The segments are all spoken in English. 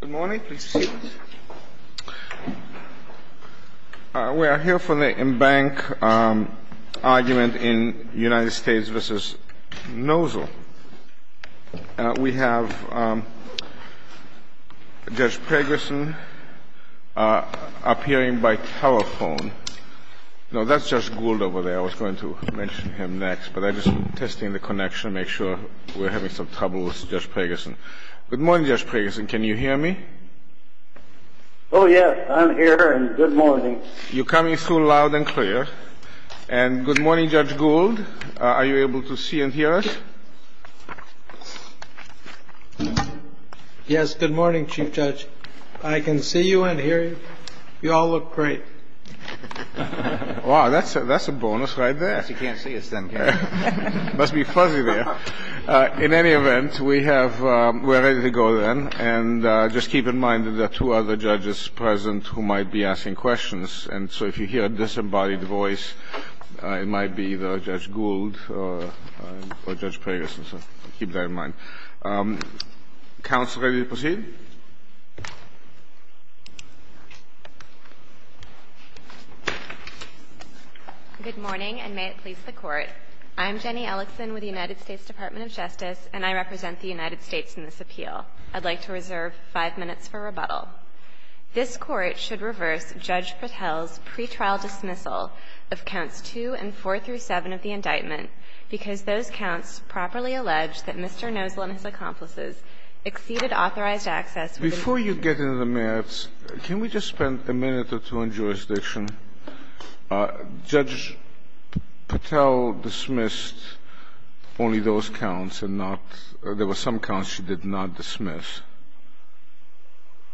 We are here for the embankment argument in United States v. Nosal. We have Judge Pregerson appearing by telephone. No, that's Judge Gould over there. I was going to mention him next, but I'm just testing the connection to make sure we're having some trouble with Judge Pregerson. Good morning, Judge Pregerson. Can you hear me? Oh, yes. I'm here, and good morning. You're coming through loud and clear. And good morning, Judge Gould. Are you able to see and hear us? Yes, good morning, Chief Judge. I can see you and hear you. You all look great. Wow, that's a bonus right there. I guess you can't see us then, can you? Must be fuzzy there. In any event, we have — we're ready to go then. And just keep in mind that there are two other judges present who might be asking questions, and so if you hear a disembodied voice, it might be either Judge Gould or Judge Pregerson, so keep that in mind. Counsel, ready to proceed? Good morning, and may it please the Court. I'm Jenny Ellison with the United States Department of Justice, and I represent the United States in this appeal. I'd like to reserve five minutes for rebuttal. This Court should reverse Judge Patel's pretrial dismissal of counts 2 and 4 through 7 of the indictment because those counts properly allege that Mr. Nosel and his accomplices exceeded authorized access within the jurisdiction of the United States. Before you get into the merits, can we just spend a minute or two on jurisdiction? Judge Patel dismissed only those counts and not — there were some counts she did not dismiss.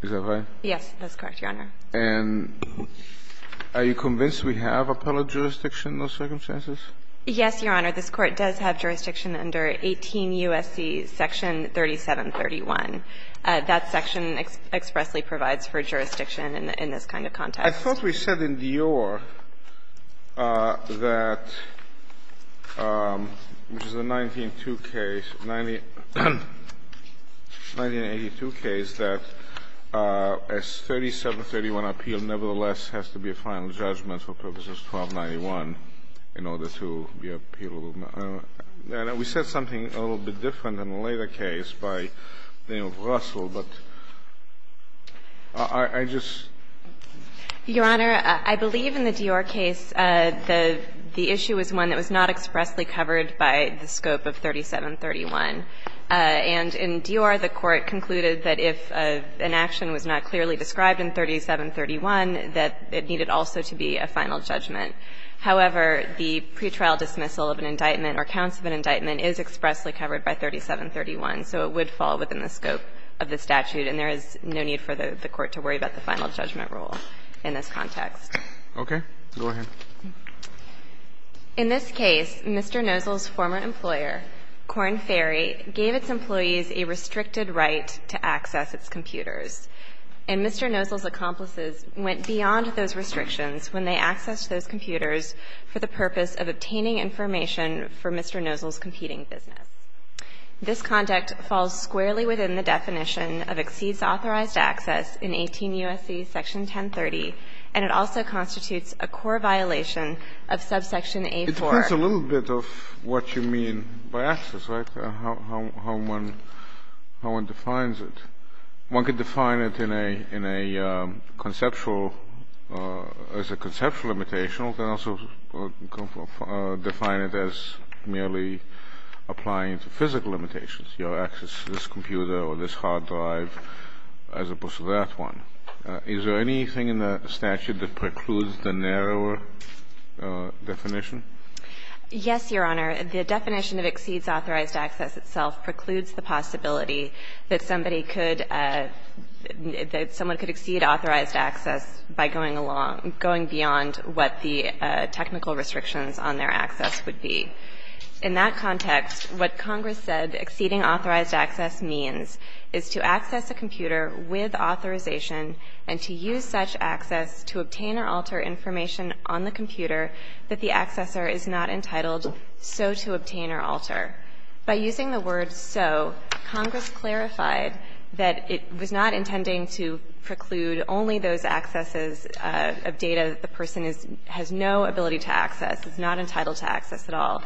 Is that right? Yes, that's correct, Your Honor. And are you convinced we have appellate jurisdiction in those circumstances? Yes, Your Honor. This Court does have jurisdiction under 18 U.S.C. section 3731. That section expressly provides for jurisdiction in this kind of context. I thought we said in Dior that, which is a 1982 case, that a 3731 appeal nevertheless has to be a final judgment for Purposes 1291 in order to be appealed. We said something a little bit different in a later case by Daniel Russell, but I just Your Honor, I believe in the Dior case the issue was one that was not expressly covered by the scope of 3731. And in Dior, the Court concluded that if an action was not clearly described in 3731, that it needed also to be a final judgment. However, the pretrial dismissal of an indictment or counts of an indictment is expressly covered by 3731, so it would fall within the scope of the statute, and there is no need for the Court to worry about the final judgment rule in this context. Okay. Go ahead. In this case, Mr. Nosel's former employer, Korn Ferry, gave its employees a restricted right to access its computers. And Mr. Nosel's accomplices went beyond those restrictions when they accessed those computers for the purpose of obtaining information for Mr. Nosel's competing business. This conduct falls squarely within the definition of exceeds authorized access in 18 U.S.C. Section 1030, and it also constitutes a core violation of subsection A-4. It depends a little bit of what you mean by access, right, and how one defines it. One could define it in a conceptual – as a conceptual limitation. One could also define it as merely applying to physical limitations, your access to this computer or this hard drive, as opposed to that one. Is there anything in the statute that precludes the narrower definition? Yes, Your Honor. The definition of exceeds authorized access itself precludes the possibility that somebody could – that someone could exceed authorized access by going along – going beyond what the technical restrictions on their access would be. In that context, what Congress said exceeding authorized access means is to access a computer with authorization and to use such access to obtain or alter information on the computer that the accessor is not entitled so to obtain or alter. By using the word so, Congress clarified that it was not intending to preclude only those accesses of data that the person is – has no ability to access, is not entitled to access at all,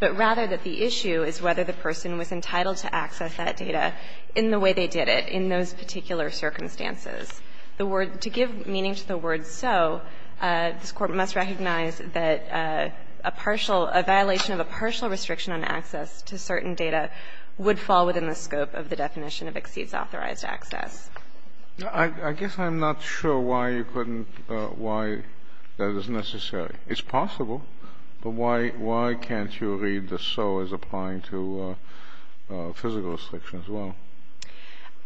but rather that the issue is whether the person was entitled to access that data in the way they did it in those particular circumstances. The word – to give meaning to the word so, this Court must recognize that a partial – a violation of a partial restriction on access to certain data would fall within the scope of the definition of exceeds authorized access. I guess I'm not sure why you couldn't – why that is necessary. It's possible, but why – why can't you read the so as applying to physical restriction as well?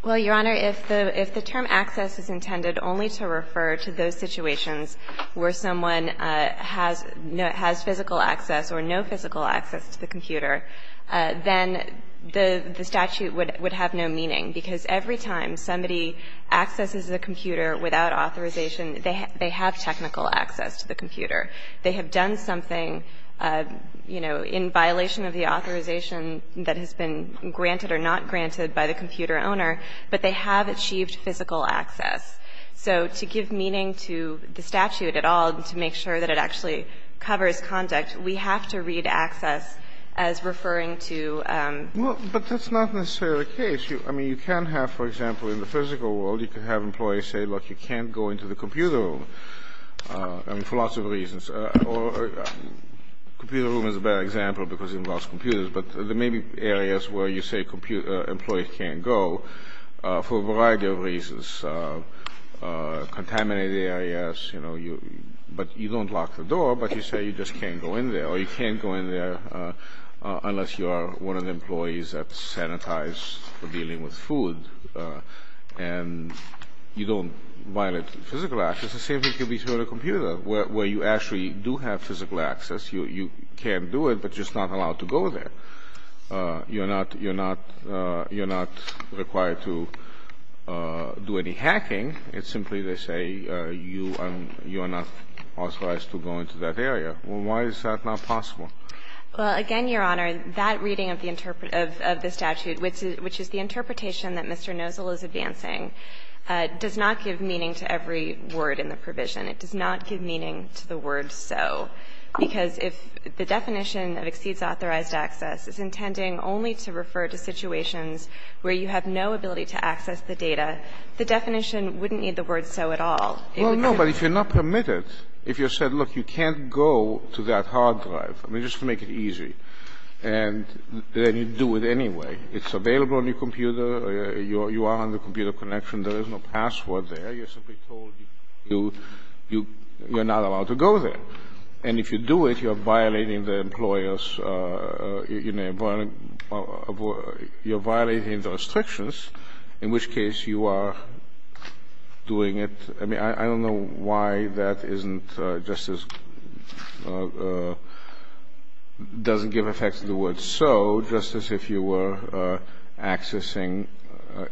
Well, Your Honor, if the – if the term access is intended only to refer to those where someone has – has physical access or no physical access to the computer, then the statute would have no meaning because every time somebody accesses a computer without authorization, they have technical access to the computer. They have done something, you know, in violation of the authorization that has been granted or not granted by the computer owner, but they have achieved physical access. So to give meaning to the statute at all and to make sure that it actually covers conduct, we have to read access as referring to – Well, but that's not necessarily the case. I mean, you can have, for example, in the physical world, you can have employees say, look, you can't go into the computer room, I mean, for lots of reasons. Or computer room is a bad example because it involves computers, but there may be areas where you say employees can't go for a variety of reasons. Contaminated areas, you know, you – but you don't lock the door, but you say you just can't go in there, or you can't go in there unless you are one of the employees that sanitize for dealing with food, and you don't violate physical access. The same thing could be true on a computer where you actually do have physical access. You can do it, but you're just not allowed to go there. You're not – you're not required to do any hacking. It's simply they say you are not authorized to go into that area. Well, why is that not possible? Well, again, Your Honor, that reading of the statute, which is the interpretation that Mr. Nosal is advancing, does not give meaning to every word in the provision. It does not give meaning to the word so, because if the definition that exceeds authorized access is intending only to refer to situations where you have no ability to access the data, the definition wouldn't need the word so at all. Well, no, but if you're not permitted, if you're said, look, you can't go to that hard drive, I mean, just to make it easy, and then you do it anyway. It's available on your computer. You are on the computer connection. There is no password there. You're simply told you're not allowed to go there. And if you do it, you're violating the employer's – you're violating the restrictions, in which case you are doing it. I mean, I don't know why that isn't just as – doesn't give effect to the word so, just as if you were accessing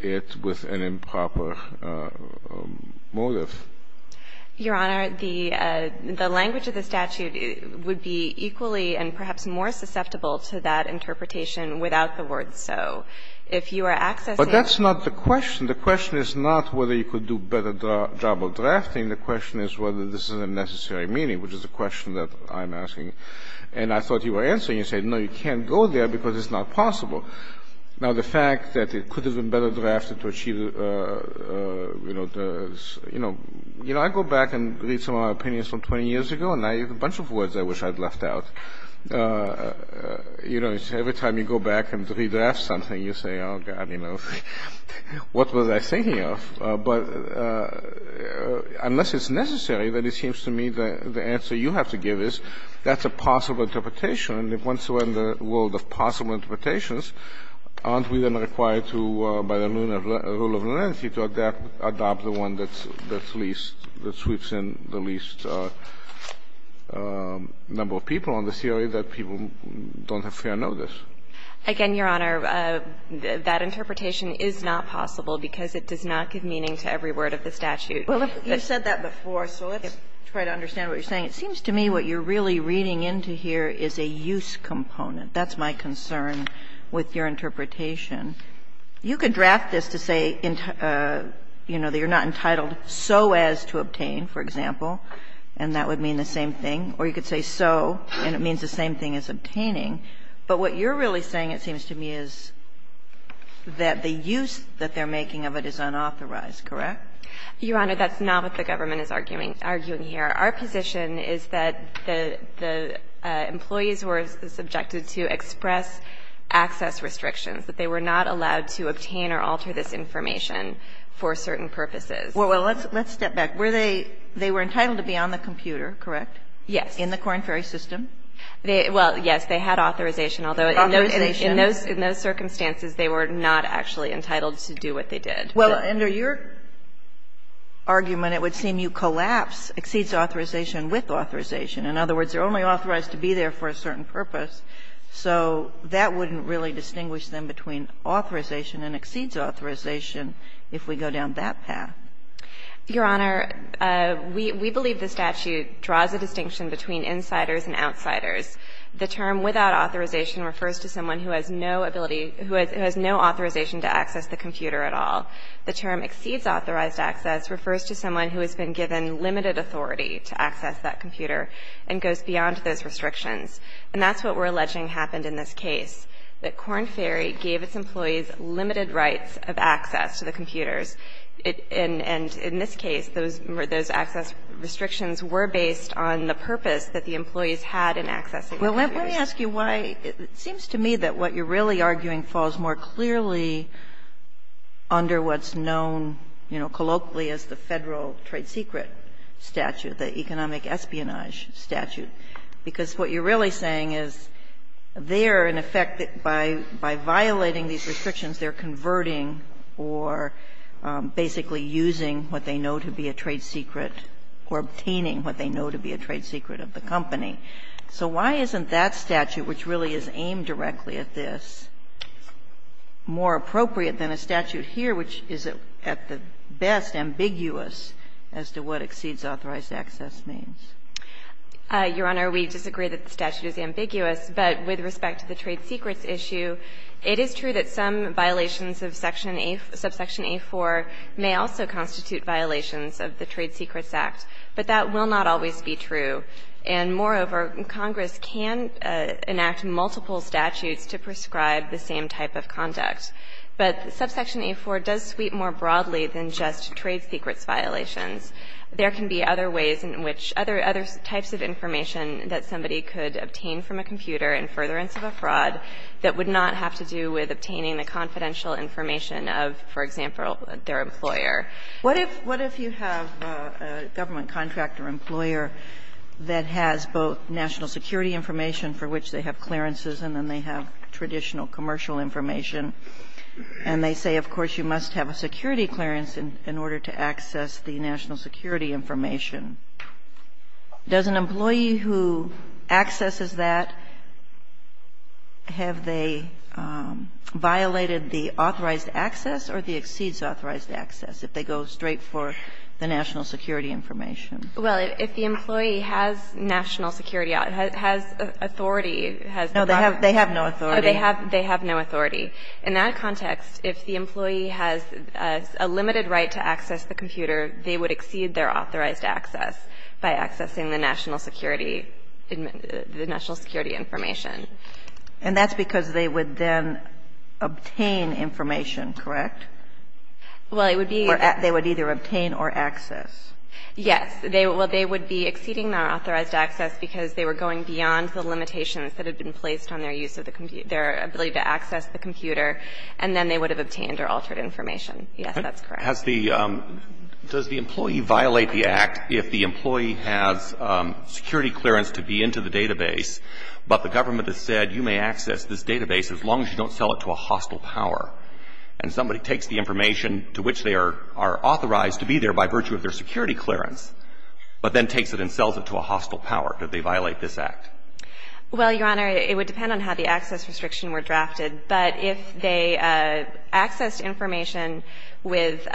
it with an improper motive. Your Honor, the language of the statute would be equally and perhaps more susceptible to that interpretation without the word so. If you are accessing it – But that's not the question. The question is not whether you could do a better job of drafting. The question is whether this is a necessary meaning, which is the question that I'm asking. And I thought you were answering. You said, no, you can't go there because it's not possible. Now, the fact that it could have been better drafted to achieve – I go back and read some of my opinions from 20 years ago, and I have a bunch of words I wish I'd left out. Every time you go back and redraft something, you say, oh, God, what was I thinking of? But unless it's necessary, then it seems to me the answer you have to give is that's a possible interpretation. And if once you're in the world of possible interpretations, aren't we then required to, by the rule of leniency, to adopt the one that's least – that sweeps in the least number of people on the theory that people don't have fair notice? Again, Your Honor, that interpretation is not possible because it does not give meaning to every word of the statute. Well, you said that before, so let's try to understand what you're saying. It seems to me what you're really reading into here is a use component. That's my concern with your interpretation. You could draft this to say, you know, that you're not entitled so as to obtain, for example, and that would mean the same thing. Or you could say so, and it means the same thing as obtaining. But what you're really saying, it seems to me, is that the use that they're making of it is unauthorized, correct? Your Honor, that's not what the government is arguing here. Our position is that the employees were subjected to express access restrictions, that they were not allowed to obtain or alter this information for certain purposes. Well, let's step back. Were they – they were entitled to be on the computer, correct? Yes. In the Corn Ferry system? Well, yes, they had authorization, although in those circumstances, they were not actually entitled to do what they did. Well, under your argument, it would seem you collapse exceeds authorization with authorization. In other words, they're only authorized to be there for a certain purpose. So that wouldn't really distinguish them between authorization and exceeds authorization if we go down that path. Your Honor, we believe the statute draws a distinction between insiders and outsiders. The term without authorization refers to someone who has no ability – who has no authorization to access the computer at all. The term exceeds authorized access refers to someone who has been given limited authority to access that computer and goes beyond those restrictions. And that's what we're alleging happened in this case, that Corn Ferry gave its employees limited rights of access to the computers. And in this case, those access restrictions were based on the purpose that the employees had in accessing the computers. Well, let me ask you why – it seems to me that what you're really arguing falls more clearly under what's known, you know, colloquially as the Federal trade secret statute, the economic espionage statute. Because what you're really saying is they're, in effect, by violating these restrictions, they're converting or basically using what they know to be a trade secret or obtaining what they know to be a trade secret of the company. So why isn't that statute, which really is aimed directly at this, more appropriate than a statute here, which is at the best ambiguous as to what exceeds authorized access means? Your Honor, we disagree that the statute is ambiguous, but with respect to the trade secrets issue, it is true that some violations of Section A – subsection A-4 may also constitute violations of the Trade Secrets Act, but that will not always be true. And moreover, Congress can enact multiple statutes to prescribe the same type of conduct. But subsection A-4 does sweep more broadly than just trade secrets violations. There can be other ways in which other – other types of information that somebody could obtain from a computer in furtherance of a fraud that would not have to do with obtaining the confidential information of, for example, their employer. Kagan. What if you have a government contractor employer that has both national security information, for which they have clearances, and then they have traditional commercial information, and they say, of course, you must have a security clearance in order to access the national security information, does an employee who accesses that, have they violated the authorized access or the exceeds authorized access? If they go straight for the national security information. Well, if the employee has national security – has authority, has the proper No, they have no authority. They have no authority. In that context, if the employee has a limited right to access the computer, they would exceed their authorized access by accessing the national security – the national security information. And that's because they would then obtain information, correct? Well, it would be – Or they would either obtain or access. Yes. They would be exceeding their authorized access because they were going beyond the limitations that had been placed on their use of the computer – their ability to access the computer, and then they would have obtained or altered information. Yes, that's correct. Has the – does the employee violate the act if the employee has security clearance to be into the database, but the government has said, you may access this database as long as you don't sell it to a hostile power, and somebody takes the information to which they are authorized to be there by virtue of their security clearance, but then takes it and sells it to a hostile power, do they violate this act? Well, Your Honor, it would depend on how the access restriction were drafted. But if they accessed information with –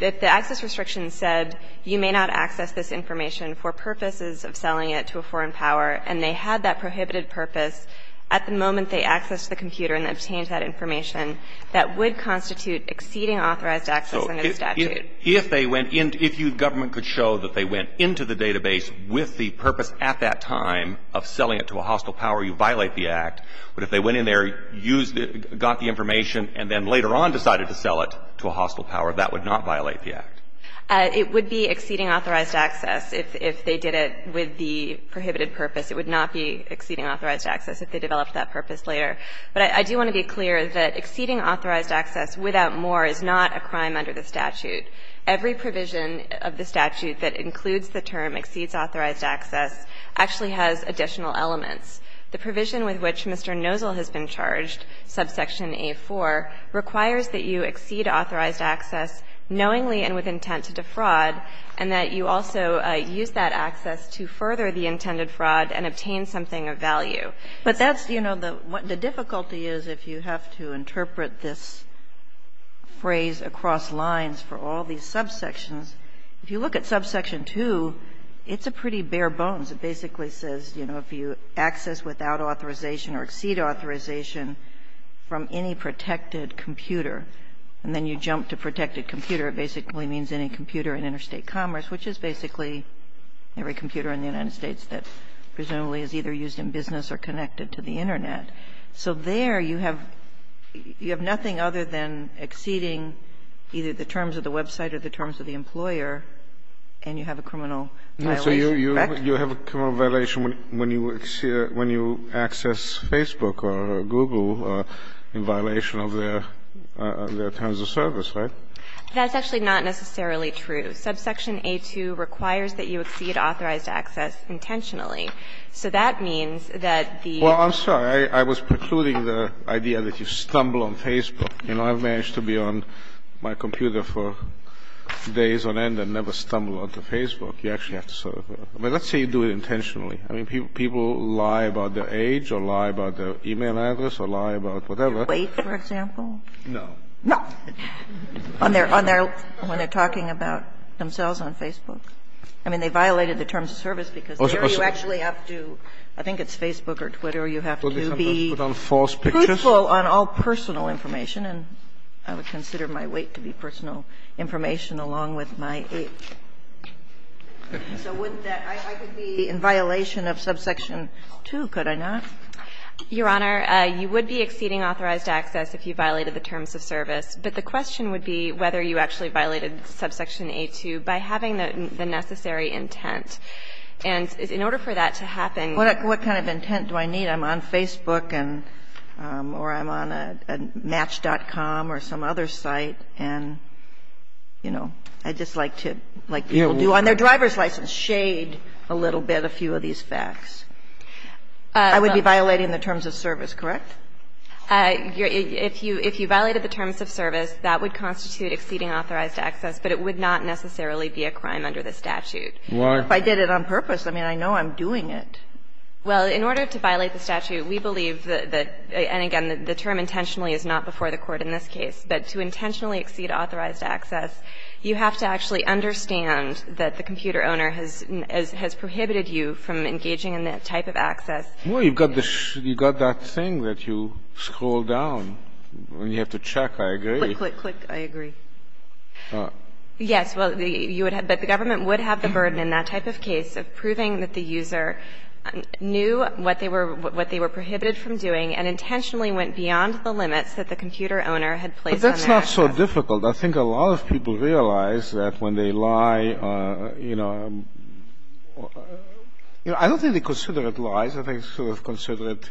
if the access restriction said, you may not access this information for purposes of selling it to a foreign power, and they had that prohibited purpose at the moment they accessed the computer and obtained that information, that would constitute exceeding authorized access in the statute. So if they went into – if you – the government could show that they went into the database with the purpose at that time of selling it to a hostile power, you violate the act, but if they went in there, used – got the information, and then later on decided to sell it to a hostile power, that would not violate the act? It would be exceeding authorized access if they did it with the prohibited purpose. It would not be exceeding authorized access if they developed that purpose later. But I do want to be clear that exceeding authorized access without more is not a crime under the statute. Every provision of the statute that includes the term exceeds authorized access actually has additional elements. The provision with which Mr. Nozzle has been charged, subsection A-4, requires that you exceed authorized access knowingly and with intent to defraud, and that you also use that access to further the intended fraud and obtain something of value. But that's – you know, the difficulty is if you have to interpret this phrase across lines for all these subsections, if you look at subsection 2, it's a pretty bare bones. It basically says, you know, if you access without authorization or exceed authorization from any protected computer, and then you jump to protected computer, it basically means any computer in interstate commerce, which is basically every computer in the United States that presumably is either used in business or connected to the Internet. So there you have – you have nothing other than exceeding either the terms of the website or the terms of the employer, and you have a criminal violation, correct? You have a criminal violation when you – when you access Facebook or Google in violation of their terms of service, right? That's actually not necessarily true. Subsection A-2 requires that you exceed authorized access intentionally. So that means that the – Well, I'm sorry. I was precluding the idea that you stumble on Facebook. You know, I've managed to be on my computer for days on end and never stumble onto Facebook. You actually have to sort of – let's say you do it intentionally. I mean, people lie about their age or lie about their e-mail address or lie about whatever. Wait, for example? No. No. On their – when they're talking about themselves on Facebook. I mean, they violated the terms of service because there you actually have to – I think it's Facebook or Twitter. You have to be truthful on all personal information, and I would consider my weight to be personal information along with my age. So wouldn't that – I could be in violation of subsection 2, could I not? Your Honor, you would be exceeding authorized access if you violated the terms of service. But the question would be whether you actually violated subsection A2 by having the necessary intent. And in order for that to happen – What kind of intent do I need? I'm on Facebook and – or I'm on Match.com or some other site, and, you know, I'd just like to – like people do on their driver's license, shade a little bit a few of these facts. I would be violating the terms of service, correct? If you violated the terms of service, that would constitute exceeding authorized access, but it would not necessarily be a crime under the statute. Why? If I did it on purpose, I mean, I know I'm doing it. Well, in order to violate the statute, we believe that – and again, the term intentionally is not before the court in this case. But to intentionally exceed authorized access, you have to actually understand that the computer owner has prohibited you from engaging in that type of access. Well, you've got the – you've got that thing that you scroll down when you have to check, I agree. Click, click, click, I agree. Yes, well, you would – but the government would have the burden in that type of case of proving that the user knew what they were – what they were prohibited from doing and intentionally went beyond the limits that the computer owner had placed on their access. But that's not so difficult. I think a lot of people realize that when they lie, you know – you know, I don't really consider it lies. I think I sort of consider it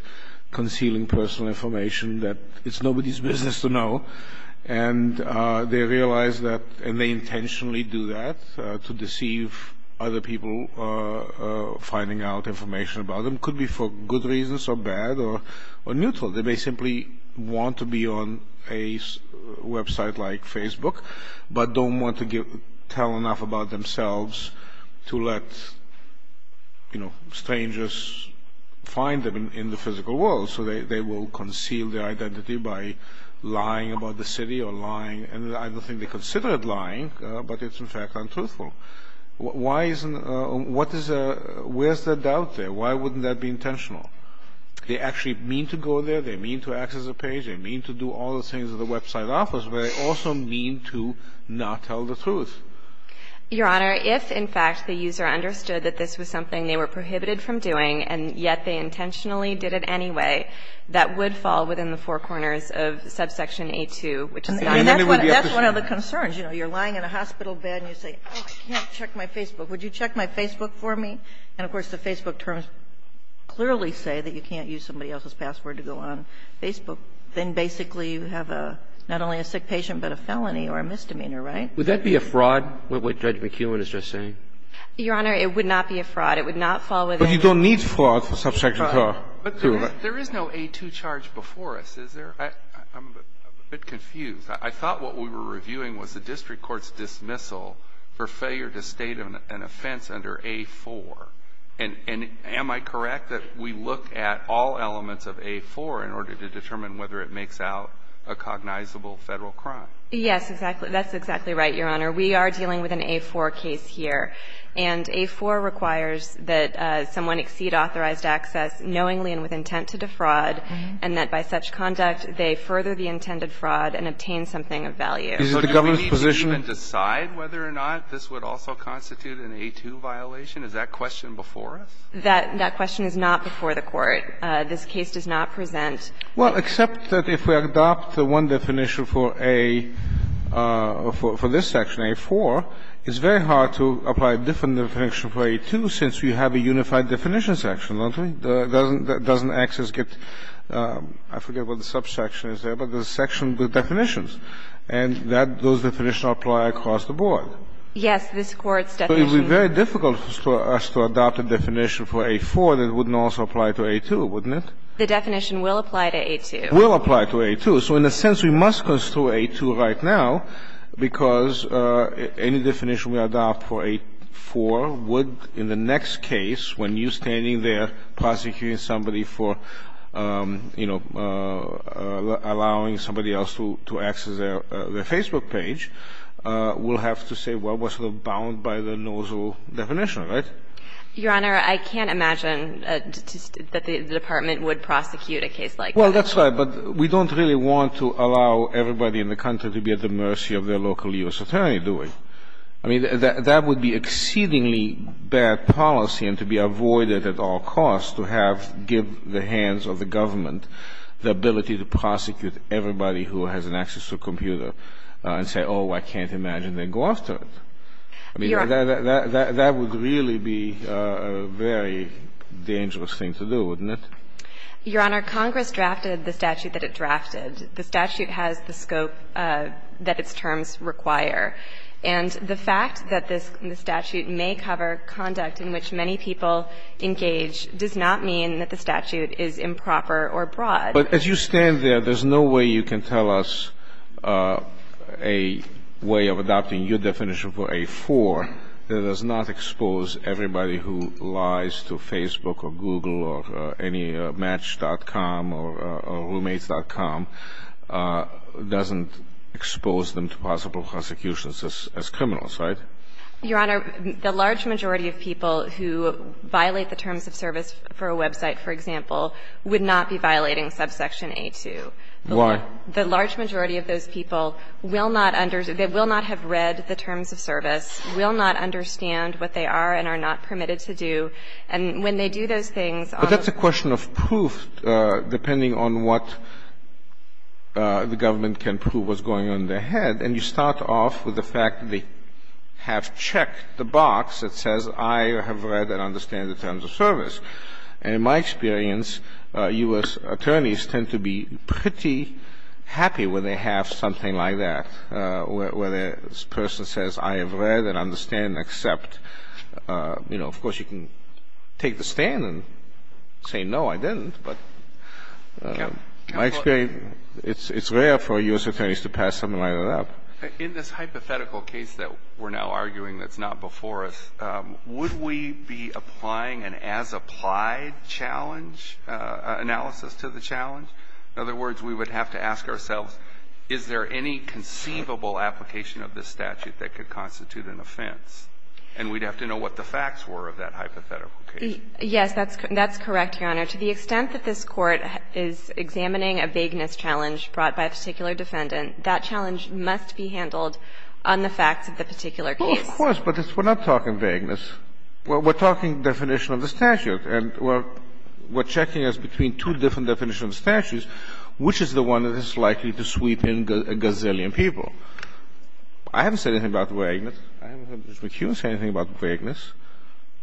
concealing personal information that it's nobody's business to know. And they realize that – and they intentionally do that to deceive other people finding out information about them. Could be for good reasons or bad or neutral. They may simply want to be on a website like Facebook, but don't want to tell enough about themselves to let, you know, strangers find them in the physical world. So they will conceal their identity by lying about the city or lying – and I don't think they consider it lying, but it's in fact untruthful. Why isn't – what is – where's the doubt there? Why wouldn't that be intentional? They actually mean to go there, they mean to access a page, they mean to do all the things that the website offers, but they also mean to not tell the truth. Your Honor, if in fact the user understood that this was something they were prohibited from doing and yet they intentionally did it anyway, that would fall within the four corners of subsection A2, which is not – And then they would be able to say – That's one of the concerns. You know, you're lying in a hospital bed and you say, oh, I can't check my Facebook. Would you check my Facebook for me? And of course the Facebook terms clearly say that you can't use somebody else's password to go on Facebook. Then basically you have a – not only a sick patient, but a felony or a misdemeanor, right? Would that be a fraud, what Judge McKeown is just saying? Your Honor, it would not be a fraud. It would not fall within – But you don't need fraud for subsection A2, right? But there is no A2 charge before us, is there? I'm a bit confused. I thought what we were reviewing was the district court's dismissal for failure to state an offense under A4. And am I correct that we look at all elements of A4 in order to determine whether it makes out a cognizable Federal crime? Yes, exactly. That's exactly right, Your Honor. We are dealing with an A4 case here. And A4 requires that someone exceed authorized access knowingly and with intent to defraud, and that by such conduct they further the intended fraud and obtain something of value. So do we need to even decide whether or not this would also constitute an A2 violation? Is that question before us? That question is not before the Court. This case does not present – Well, except that if we adopt the one definition for A – for this section, A4, it's very hard to apply a different definition for A2 since you have a unified definition section, don't we? Doesn't access get – I forget what the subsection is there, but there's a section with definitions. Yes, this Court's definition – So it would be very difficult for us to adopt a definition for A4 that wouldn't also apply to A2, wouldn't it? The definition will apply to A2. Will apply to A2. So in a sense we must construe A2 right now because any definition we adopt for A4 would, in the next case, when you're standing there prosecuting somebody for, you know, allowing somebody else to access their Facebook page, will have to say, well, that was bound by the NOZO definition, right? Your Honor, I can't imagine that the Department would prosecute a case like that. Well, that's right, but we don't really want to allow everybody in the country to be at the mercy of their local U.S. attorney, do we? I mean, that would be exceedingly bad policy and to be avoided at all costs to have – give the hands of the government the ability to prosecute everybody who has an access to a computer and say, oh, I can't imagine they go after it. I mean, that would really be a very dangerous thing to do, wouldn't it? Your Honor, Congress drafted the statute that it drafted. The statute has the scope that its terms require. And the fact that this statute may cover conduct in which many people engage does not mean that the statute is improper or broad. But as you stand there, there's no way you can tell us a way of adopting your definition for A4 that does not expose everybody who lies to Facebook or Google or any – Match.com or Roommates.com doesn't expose them to possible prosecutions as criminals, right? Your Honor, the large majority of people who violate the terms of service for a website, for example, would not be violating subsection A2. Why? The large majority of those people will not – they will not have read the terms of service, will not understand what they are and are not permitted to do. And when they do those things on the – But that's a question of proof, depending on what the government can prove what's going on in their head. And you start off with the fact they have checked the box that says I have read and understand the terms of service. And in my experience, U.S. attorneys tend to be pretty happy when they have something like that, where the person says I have read and understand and accept. You know, of course, you can take the stand and say no, I didn't, but my experience – it's rare for U.S. attorneys to pass something like that up. In this hypothetical case that we're now arguing that's not before us, would we be applying an as-applied challenge, analysis to the challenge? In other words, we would have to ask ourselves, is there any conceivable application of this statute that could constitute an offense? And we'd have to know what the facts were of that hypothetical case. Yes, that's correct, Your Honor. To the extent that this Court is examining a vagueness challenge brought by a particular defendant, that challenge must be handled on the facts of the particular case. Well, of course, but we're not talking vagueness. Well, we're talking definition of the statute. And we're checking as between two different definitions of statutes, which is the one that is likely to sweep in a gazillion people. I haven't said anything about vagueness. I haven't heard Mr. McHugh say anything about vagueness.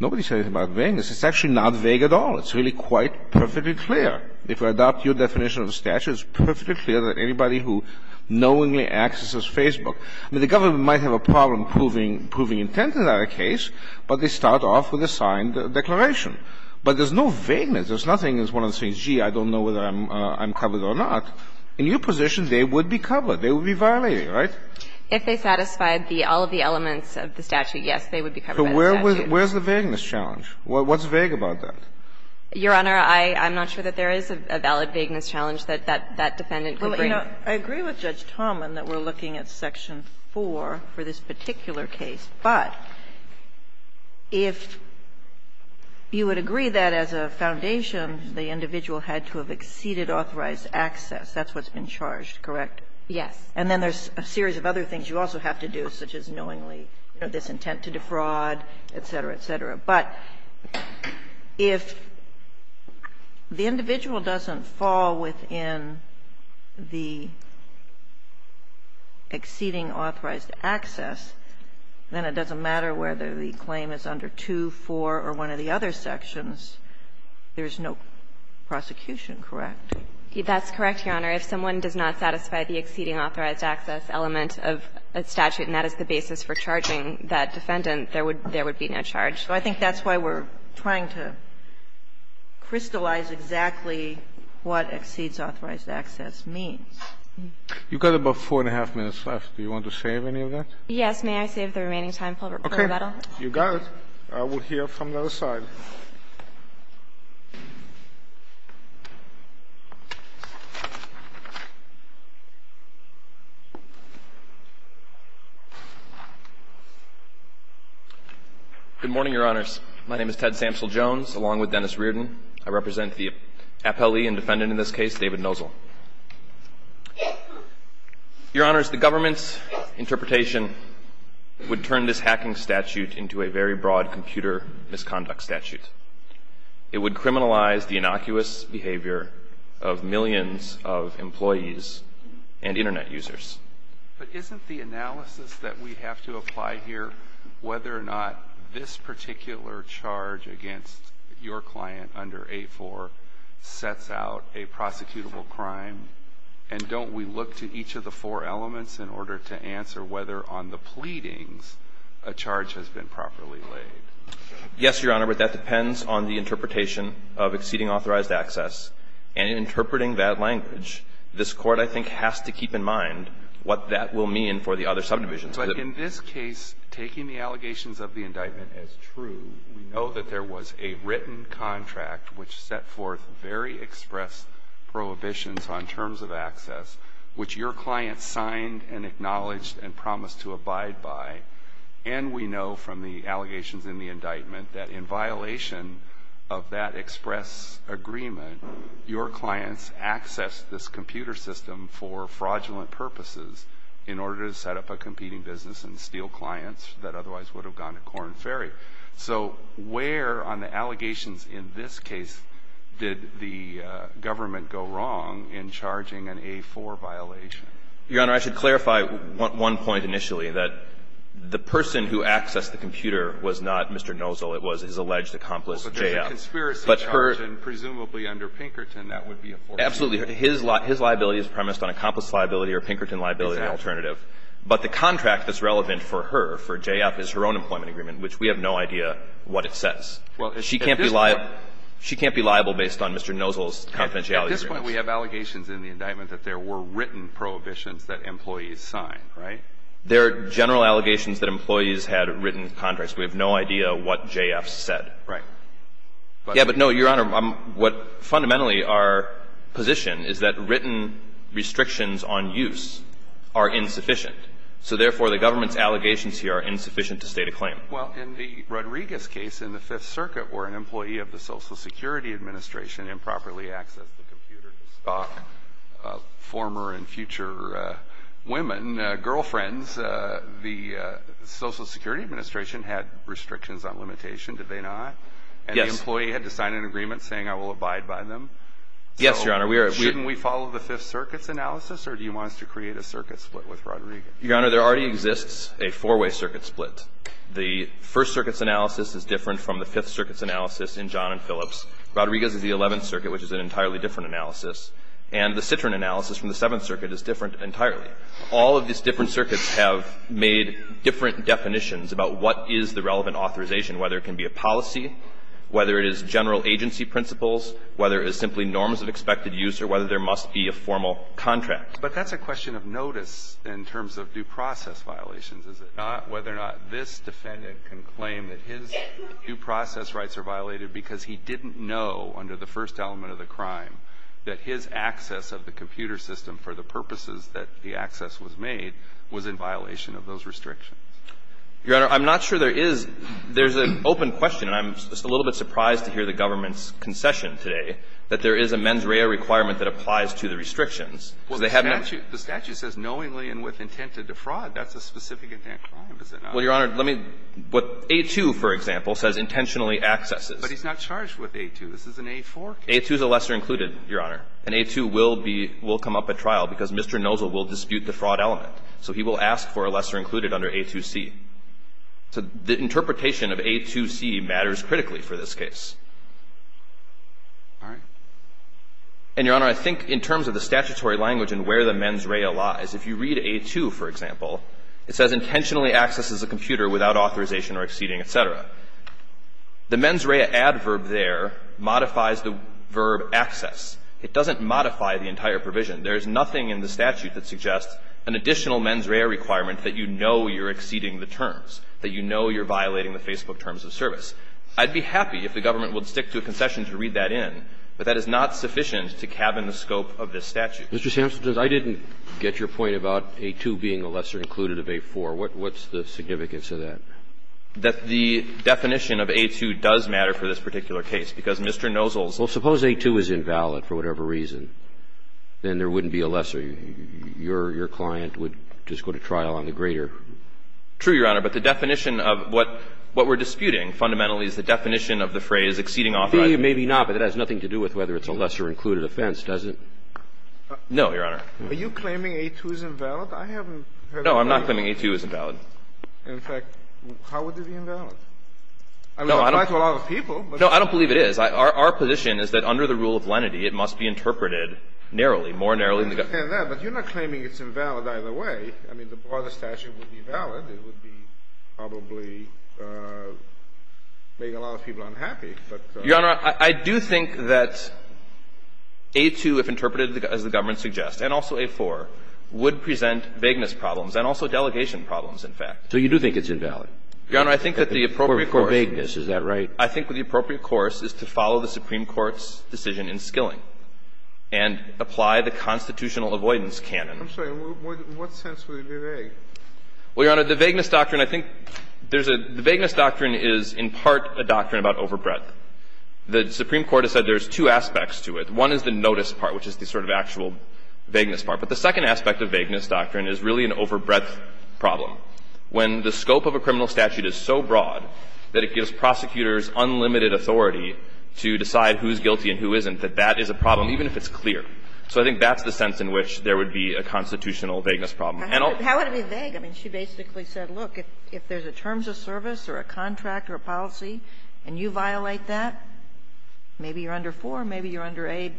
Nobody said anything about vagueness. It's actually not vague at all. It's really quite perfectly clear. If we adopt your definition of the statute, it's perfectly clear that anybody who knowingly accesses Facebook – I mean, the government might have a problem proving intent in that case, but they start off with a signed declaration. But there's no vagueness. There's nothing as one of the things, gee, I don't know whether I'm covered or not. In your position, they would be covered. They would be violated, right? If they satisfied the – all of the elements of the statute, yes, they would be covered by the statute. So where's the vagueness challenge? What's vague about that? Your Honor, I'm not sure that there is a valid vagueness challenge that that defendant could bring. Sotomayor, I agree with Judge Tauman that we're looking at section 4 for this particular case, but if you would agree that as a foundation, the individual had to have exceeded authorized access, that's what's been charged, correct? Yes. And then there's a series of other things you also have to do, such as knowingly this intent to defraud, et cetera, et cetera. But if the individual doesn't fall within the exceeding authorized access, then it doesn't matter whether the claim is under 2, 4, or one of the other sections, there is no prosecution, correct? That's correct, Your Honor. If someone does not satisfy the exceeding authorized access element of a statute and that is the basis for charging that defendant, there would be no charge. So I think that's why we're trying to crystallize exactly what exceeds authorized access means. You've got about four and a half minutes left. Do you want to save any of that? Yes. May I save the remaining time, Mr. Verbello? Okay. You got it. I will hear from the other side. Good morning, Your Honors. My name is Ted Samsel-Jones, along with Dennis Reardon. I represent the appellee and defendant in this case, David Nosel. Your Honors, the government's interpretation would turn this hacking statute into a very broad computer misconduct statute. It would criminalize the innocuous behavior of millions of employees and Internet users. But isn't the analysis that we have to apply here whether or not this particular charge against your client under 8-4 sets out a prosecutable crime? And don't we look to each of the four elements in order to answer whether on the pleadings a charge has been properly laid? Yes, Your Honor, but that depends on the interpretation of exceeding authorized access. And in interpreting that language, this Court, I think, has to keep in mind what that will mean for the other subdivisions. But in this case, taking the allegations of the indictment as true, we know that there was a written contract which set forth very express prohibitions on terms of access, which your client signed and acknowledged and promised to abide by. And we know from the allegations in the indictment that in violation of that express agreement, your clients accessed this computer system for fraudulent purposes in order to set up a competing business and steal clients that otherwise would have gone to corn and fairy. So where on the allegations in this case did the government go wrong in charging an 8-4 violation? Your Honor, I should clarify one point initially, that the person who accessed the computer was not Mr. Nozol. It was his alleged accomplice, J.F. But her ---- But there's a conspiracy charge, and presumably under Pinkerton, that would be a forfeiture. Absolutely. His liability is premised on accomplice liability or Pinkerton liability alternative. Exactly. But the contract that's relevant for her, for J.F., is her own employment agreement, which we have no idea what it says. Well, at this point ---- She can't be liable based on Mr. Nozol's confidentiality. At this point, we have allegations in the indictment that there were written prohibitions that employees signed, right? There are general allegations that employees had written contracts. We have no idea what J.F. said. Right. Yeah, but no, Your Honor, what fundamentally our position is that written restrictions on use are insufficient. So therefore, the government's allegations here are insufficient to state a claim. Well, in the Rodriguez case in the Fifth Circuit where an employee of the Social Security Administration improperly accessed the computer to stalk former and future women, girlfriends, the Social Security Administration had restrictions on limitation, did they not? Yes. And the employee had to sign an agreement saying, I will abide by them. Yes, Your Honor, we are ---- So shouldn't we follow the Fifth Circuit's analysis, or do you want us to create a circuit split with Rodriguez? Your Honor, there already exists a four-way circuit split. The First Circuit's analysis is different from the Fifth Circuit's analysis in John Phillips. Rodriguez's is the Eleventh Circuit, which is an entirely different analysis. And the Citroen analysis from the Seventh Circuit is different entirely. All of these different circuits have made different definitions about what is the relevant authorization, whether it can be a policy, whether it is general agency principles, whether it is simply norms of expected use, or whether there must be a formal contract. But that's a question of notice in terms of due process violations, is it not, whether or not this defendant can claim that his due process rights are violated because he didn't know under the first element of the crime that his access of the computer system for the purposes that the access was made was in violation of those restrictions. Your Honor, I'm not sure there is ---- there's an open question, and I'm just a little bit surprised to hear the government's concession today, that there is a mens rea requirement that applies to the restrictions. Well, the statute says knowingly and with intent to defraud. That's a specific intent crime, is it not? Well, Your Honor, let me ---- what A-2, for example, says intentionally accesses. But he's not charged with A-2. This is an A-4 case. A-2 is a lesser included, Your Honor, and A-2 will be ---- will come up at trial because Mr. Nozol will dispute the fraud element. So he will ask for a lesser included under A-2c. So the interpretation of A-2c matters critically for this case. All right. And, Your Honor, I think in terms of the statutory language and where the mens rea lies, if you read A-2, for example, it says intentionally accesses a computer without authorization or exceeding, et cetera. The mens rea adverb there modifies the verb access. It doesn't modify the entire provision. There is nothing in the statute that suggests an additional mens rea requirement that you know you're exceeding the terms, that you know you're violating the Facebook terms of service. I'd be happy if the government would stick to a concession to read that in, but that is not sufficient to cabin the scope of this statute. Mr. Sampson, I didn't get your point about A-2 being a lesser included of A-4. What's the significance of that? The definition of A-2 does matter for this particular case because Mr. Nozol's Well, suppose A-2 is invalid for whatever reason, then there wouldn't be a lesser. Your client would just go to trial on the greater. True, Your Honor, but the definition of what we're disputing fundamentally is the definition of the phrase exceeding authorized. Maybe not, but that has nothing to do with whether it's a lesser included offense, does it? No, Your Honor. Are you claiming A-2 is invalid? I haven't heard of that. No, I'm not claiming A-2 is invalid. In fact, how would it be invalid? I mean, it applies to a lot of people, but it's not. No, I don't believe it is. Our position is that under the rule of lenity, it must be interpreted narrowly, more narrowly than the government. I understand that, but you're not claiming it's invalid either way. I mean, the broader statute would be valid. It would be probably making a lot of people unhappy, but. Your Honor, I do think that A-2, if interpreted as the government suggests, and also A-4, would present vagueness problems and also delegation problems, in fact. So you do think it's invalid? Your Honor, I think that the appropriate course. For vagueness, is that right? I think the appropriate course is to follow the Supreme Court's decision in Skilling and apply the constitutional avoidance canon. I'm sorry. In what sense would it be vague? Well, Your Honor, the vagueness doctrine, I think there's a – the vagueness doctrine is in part a doctrine about overbreadth. The Supreme Court has said there's two aspects to it. One is the notice part, which is the sort of actual vagueness part. But the second aspect of vagueness doctrine is really an overbreadth problem. When the scope of a criminal statute is so broad that it gives prosecutors unlimited authority to decide who's guilty and who isn't, that that is a problem, even if it's clear. So I think that's the sense in which there would be a constitutional vagueness problem. And I'll – How would it be vague? I mean, she basically said, look, if there's a terms of service or a contract or a policy, and you violate that, maybe you're under four, maybe you're under aid,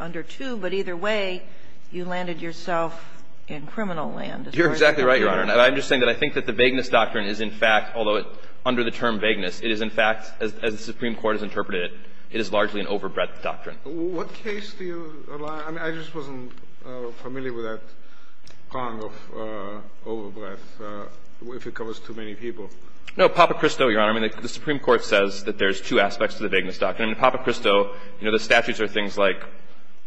under two, but either way, you landed yourself in criminal land. You're exactly right, Your Honor. And I'm just saying that I think that the vagueness doctrine is, in fact, although it – under the term vagueness, it is, in fact, as the Supreme Court has interpreted it, it is largely an overbreadth doctrine. What case do you – I mean, I just wasn't familiar with that prong of overbreadth if it covers too many people. No, Papa Cristo, Your Honor, I mean, the Supreme Court says that there's two aspects to the vagueness doctrine. In Papa Cristo, you know, the statutes are things like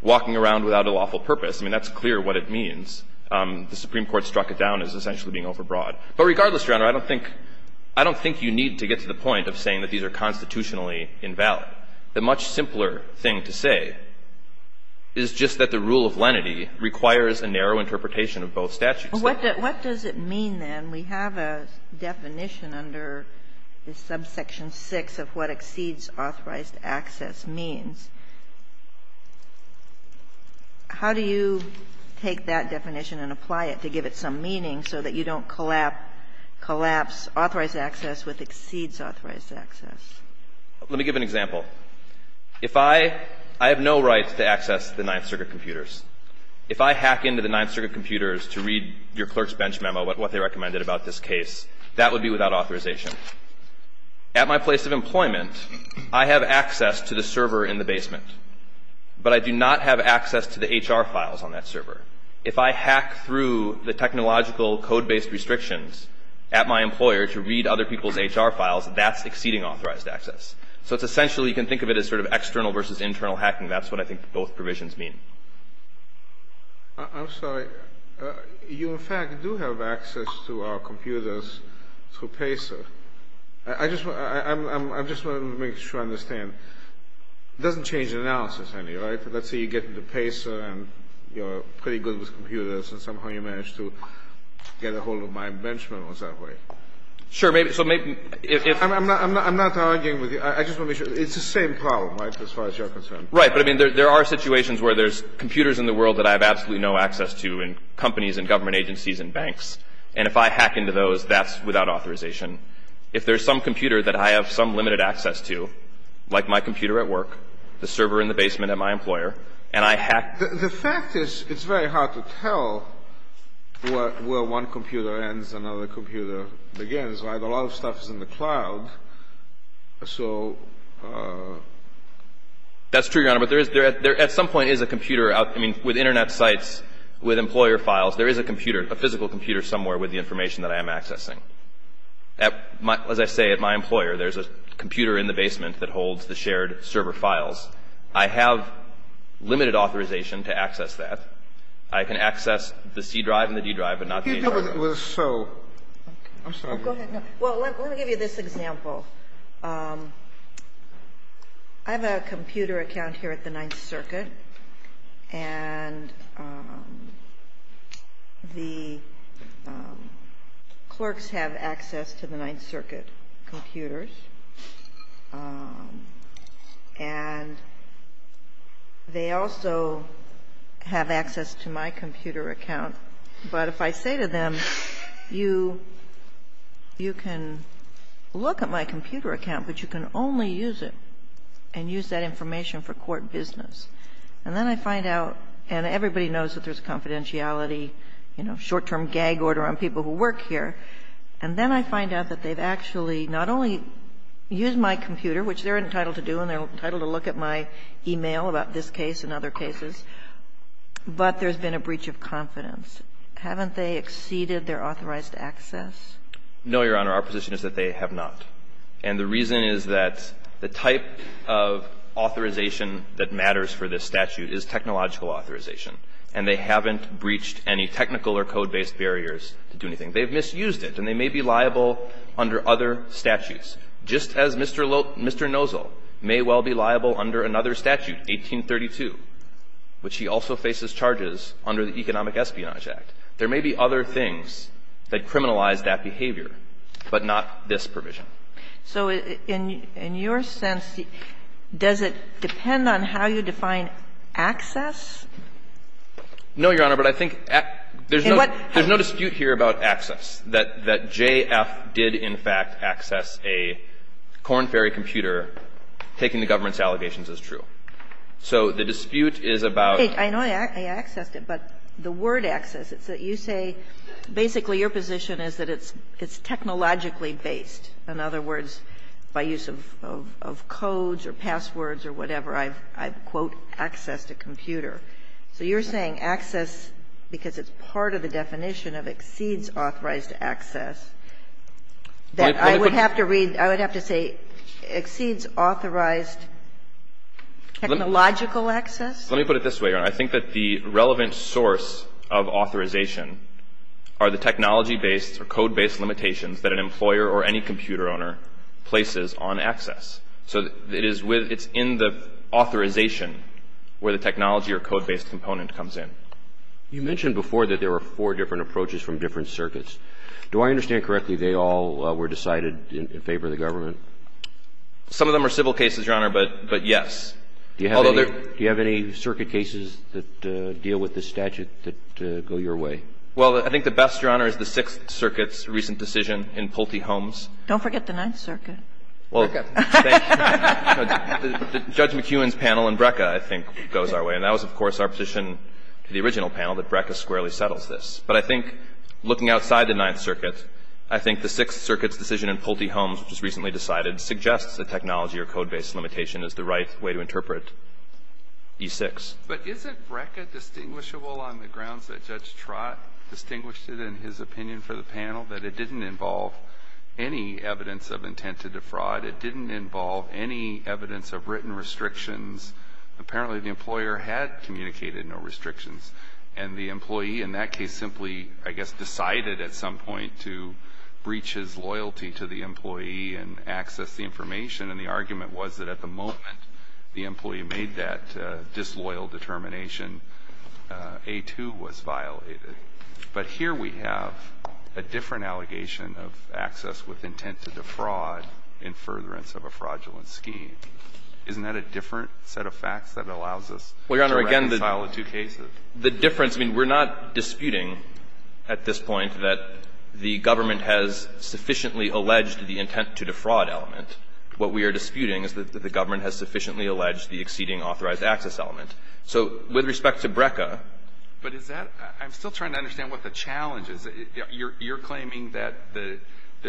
walking around without a lawful purpose. I mean, that's clear what it means. The Supreme Court struck it down as essentially being overbroad. But regardless, Your Honor, I don't think – I don't think you need to get to the point of saying that these are constitutionally invalid. The much simpler thing to say is just that the rule of lenity requires a narrow interpretation of both statutes. What does it mean, then? We have a definition under subsection 6 of what exceeds authorized access means. How do you take that definition and apply it to give it some meaning so that you don't collapse authorized access with exceeds authorized access? Let me give an example. If I – I have no right to access the Ninth Circuit computers. If I hack into the Ninth Circuit computers to read your clerk's bench memo about what they recommended about this case, that would be without authorization. At my place of employment, I have access to the server in the basement. But I do not have access to the HR files on that server. If I hack through the technological code-based restrictions at my employer to read other people's HR files, that's exceeding authorized access. So it's essentially – you can think of it as sort of external versus internal hacking. That's what I think both provisions mean. I'm sorry. You, in fact, do have access to our computers through PACER. I just want to make sure I understand. It doesn't change the analysis any, right? Let's say you get into PACER, and you're pretty good with computers, and somehow you manage to get a hold of my bench memos that way. Sure, maybe – so maybe if – I'm not arguing with you. I just want to make sure – it's the same problem, right, as far as you're concerned? Right, but, I mean, there are situations where there's computers in the world that I have absolutely no access to in companies and government agencies and banks. And if I hack into those, that's without authorization. If there's some computer that I have some limited access to, like my computer at work, the server in the basement at my employer, and I hack – The fact is, it's very hard to tell where one computer ends, another computer begins, right? A lot of stuff is in the cloud. So – That's true, Your Honor, but there is – there at some point is a computer out – I mean, with Internet sites, with employer files, there is a computer, a physical computer somewhere with the information that I am accessing. At my – as I say, at my employer, there's a computer in the basement that holds the shared server files. I have limited authorization to access that. I can access the C drive and the D drive, but not the H drive. So – I'm sorry. Go ahead. Well, let me give you this example. I have a computer account here at the Ninth Circuit, and the clerks have access to the Ninth Circuit computers, and they also have access to my computer account. But if I say to them, you can look at my computer account, but you can only use it and use that information for court business. And then I find out – and everybody knows that there's confidentiality, you know, short-term gag order on people who work here. And then I find out that they've actually not only used my computer, which they're entitled to do and they're entitled to look at my e-mail about this case and other cases, but there's been a breach of confidence. Haven't they exceeded their authorized access? No, Your Honor. Our position is that they have not. And the reason is that the type of authorization that matters for this statute is technological authorization, and they haven't breached any technical or code-based barriers to do anything. They've misused it, and they may be liable under other statutes, just as Mr. Nozol may well be liable under another statute, 1832. But she also faces charges under the Economic Espionage Act. There may be other things that criminalize that behavior, but not this provision. So in your sense, does it depend on how you define access? No, Your Honor, but I think there's no dispute here about access, that JF did in fact access a corn-ferry computer, taking the government's allegations as true. So the dispute is about the word access. You say basically your position is that it's technologically based. In other words, by use of codes or passwords or whatever, I quote, access to computer. So you're saying access, because it's part of the definition of exceeds authorized access, that I would have to read, I would have to say exceeds authorized technological access? Let me put it this way, Your Honor. I think that the relevant source of authorization are the technology-based or code-based limitations that an employer or any computer owner places on access. So it is with – it's in the authorization where the technology or code-based component comes in. You mentioned before that there were four different approaches from different Do I understand correctly they all were decided in favor of the government? Some of them are civil cases, Your Honor, but yes. Do you have any circuit cases that deal with this statute that go your way? Well, I think the best, Your Honor, is the Sixth Circuit's recent decision in Pulte Holmes. Don't forget the Ninth Circuit. Well, Judge McEwen's panel in BRCA, I think, goes our way. And that was, of course, our position to the original panel, that BRCA squarely settles this. But I think looking outside the Ninth Circuit, I think the Sixth Circuit's decision in Pulte Holmes, which was recently decided, suggests that technology or code-based limitation is the right way to interpret E6. But isn't BRCA distinguishable on the grounds that Judge Trott distinguished it in his opinion for the panel, that it didn't involve any evidence of intent to defraud? It didn't involve any evidence of written restrictions. Apparently, the employer had communicated no restrictions. And the employee in that case simply, I guess, decided at some point to breach his loyalty to the employee and access the information. And the argument was that at the moment the employee made that disloyal determination, A2 was violated. But here we have a different allegation of access with intent to defraud in furtherance of a fraudulent scheme. Isn't that a different set of facts that allows us to reconcile the two cases? Well, Your Honor, again, the difference, I mean, we're not disputing at this point that the government has sufficiently alleged the intent to defraud element. What we are disputing is that the government has sufficiently alleged the exceeding authorized access element. So with respect to BRCA But is that – I'm still trying to understand what the challenge is. You're claiming that the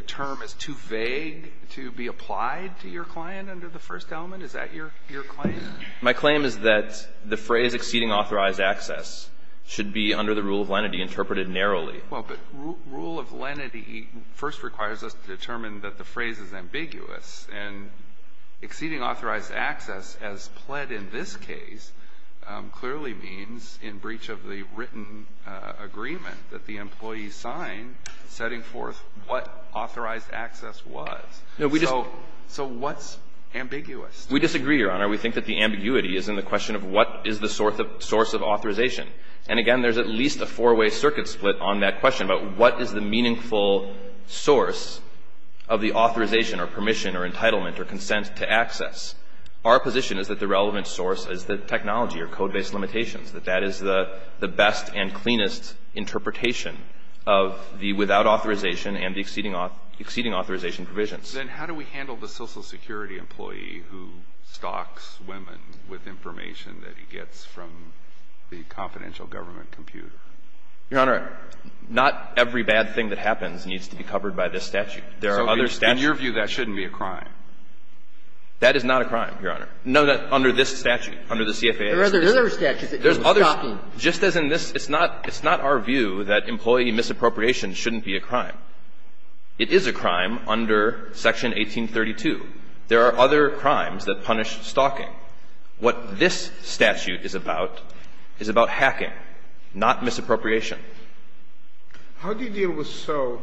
term is too vague to be applied to your client under the first element? Is that your claim? My claim is that the phrase exceeding authorized access should be under the rule of lenity interpreted narrowly. Well, but rule of lenity first requires us to determine that the phrase is ambiguous. And exceeding authorized access as pled in this case clearly means in breach of the written agreement that the employee signed setting forth what authorized access was. So what's ambiguous? We disagree, Your Honor. We think that the ambiguity is in the question of what is the source of authorization. And again, there's at least a four-way circuit split on that question about what is the meaningful source of the authorization or permission or entitlement or consent to access. Our position is that the relevant source is the technology or code-based limitations, that that is the best and cleanest interpretation of the without authorization and the exceeding authorization provisions. Then how do we handle the Social Security employee who stalks women with information that he gets from the confidential government computer? Your Honor, not every bad thing that happens needs to be covered by this statute. There are other statutes. So in your view, that shouldn't be a crime? That is not a crime, Your Honor. No, under this statute, under the CFAS. There are other statutes that do stalking. Just as in this, it's not our view that employee misappropriation shouldn't be a crime. It is a crime under section 1832. There are other crimes that punish stalking. What this statute is about is about hacking, not misappropriation. How do you deal with so?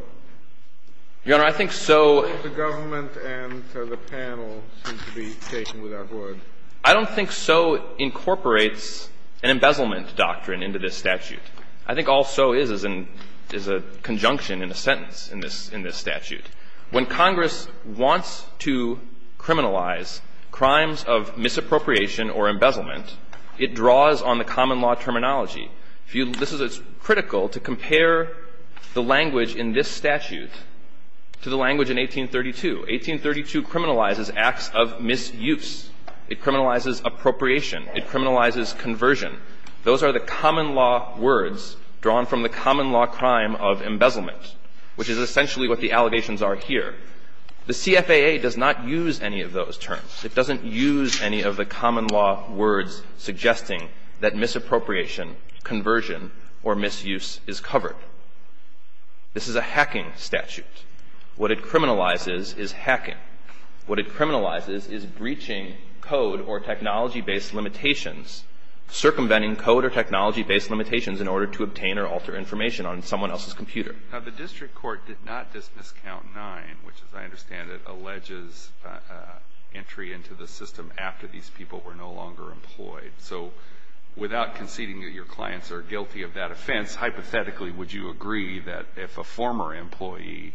Your Honor, I think so. The government and the panel seem to be taking without word. I don't think so incorporates an embezzlement doctrine into this statute. I think all so is is a conjunction in a sentence in this statute. When Congress wants to criminalize crimes of misappropriation or embezzlement, it draws on the common law terminology. This is critical to compare the language in this statute to the language in 1832. 1832 criminalizes acts of misuse. It criminalizes appropriation. It criminalizes conversion. Those are the common law words drawn from the common law crime of embezzlement, which is essentially what the allegations are here. The CFAA does not use any of those terms. It doesn't use any of the common law words suggesting that misappropriation, conversion, or misuse is covered. This is a hacking statute. What it criminalizes is hacking. What it criminalizes is breaching code or technology-based limitations, circumventing code or technology-based limitations in order to obtain or alter information on someone else's computer. Now, the district court did not dismiss count nine, which, as I understand it, alleges entry into the system after these people were no longer employed. So without conceding that your clients are guilty of that offense, hypothetically, would you agree that if a former employee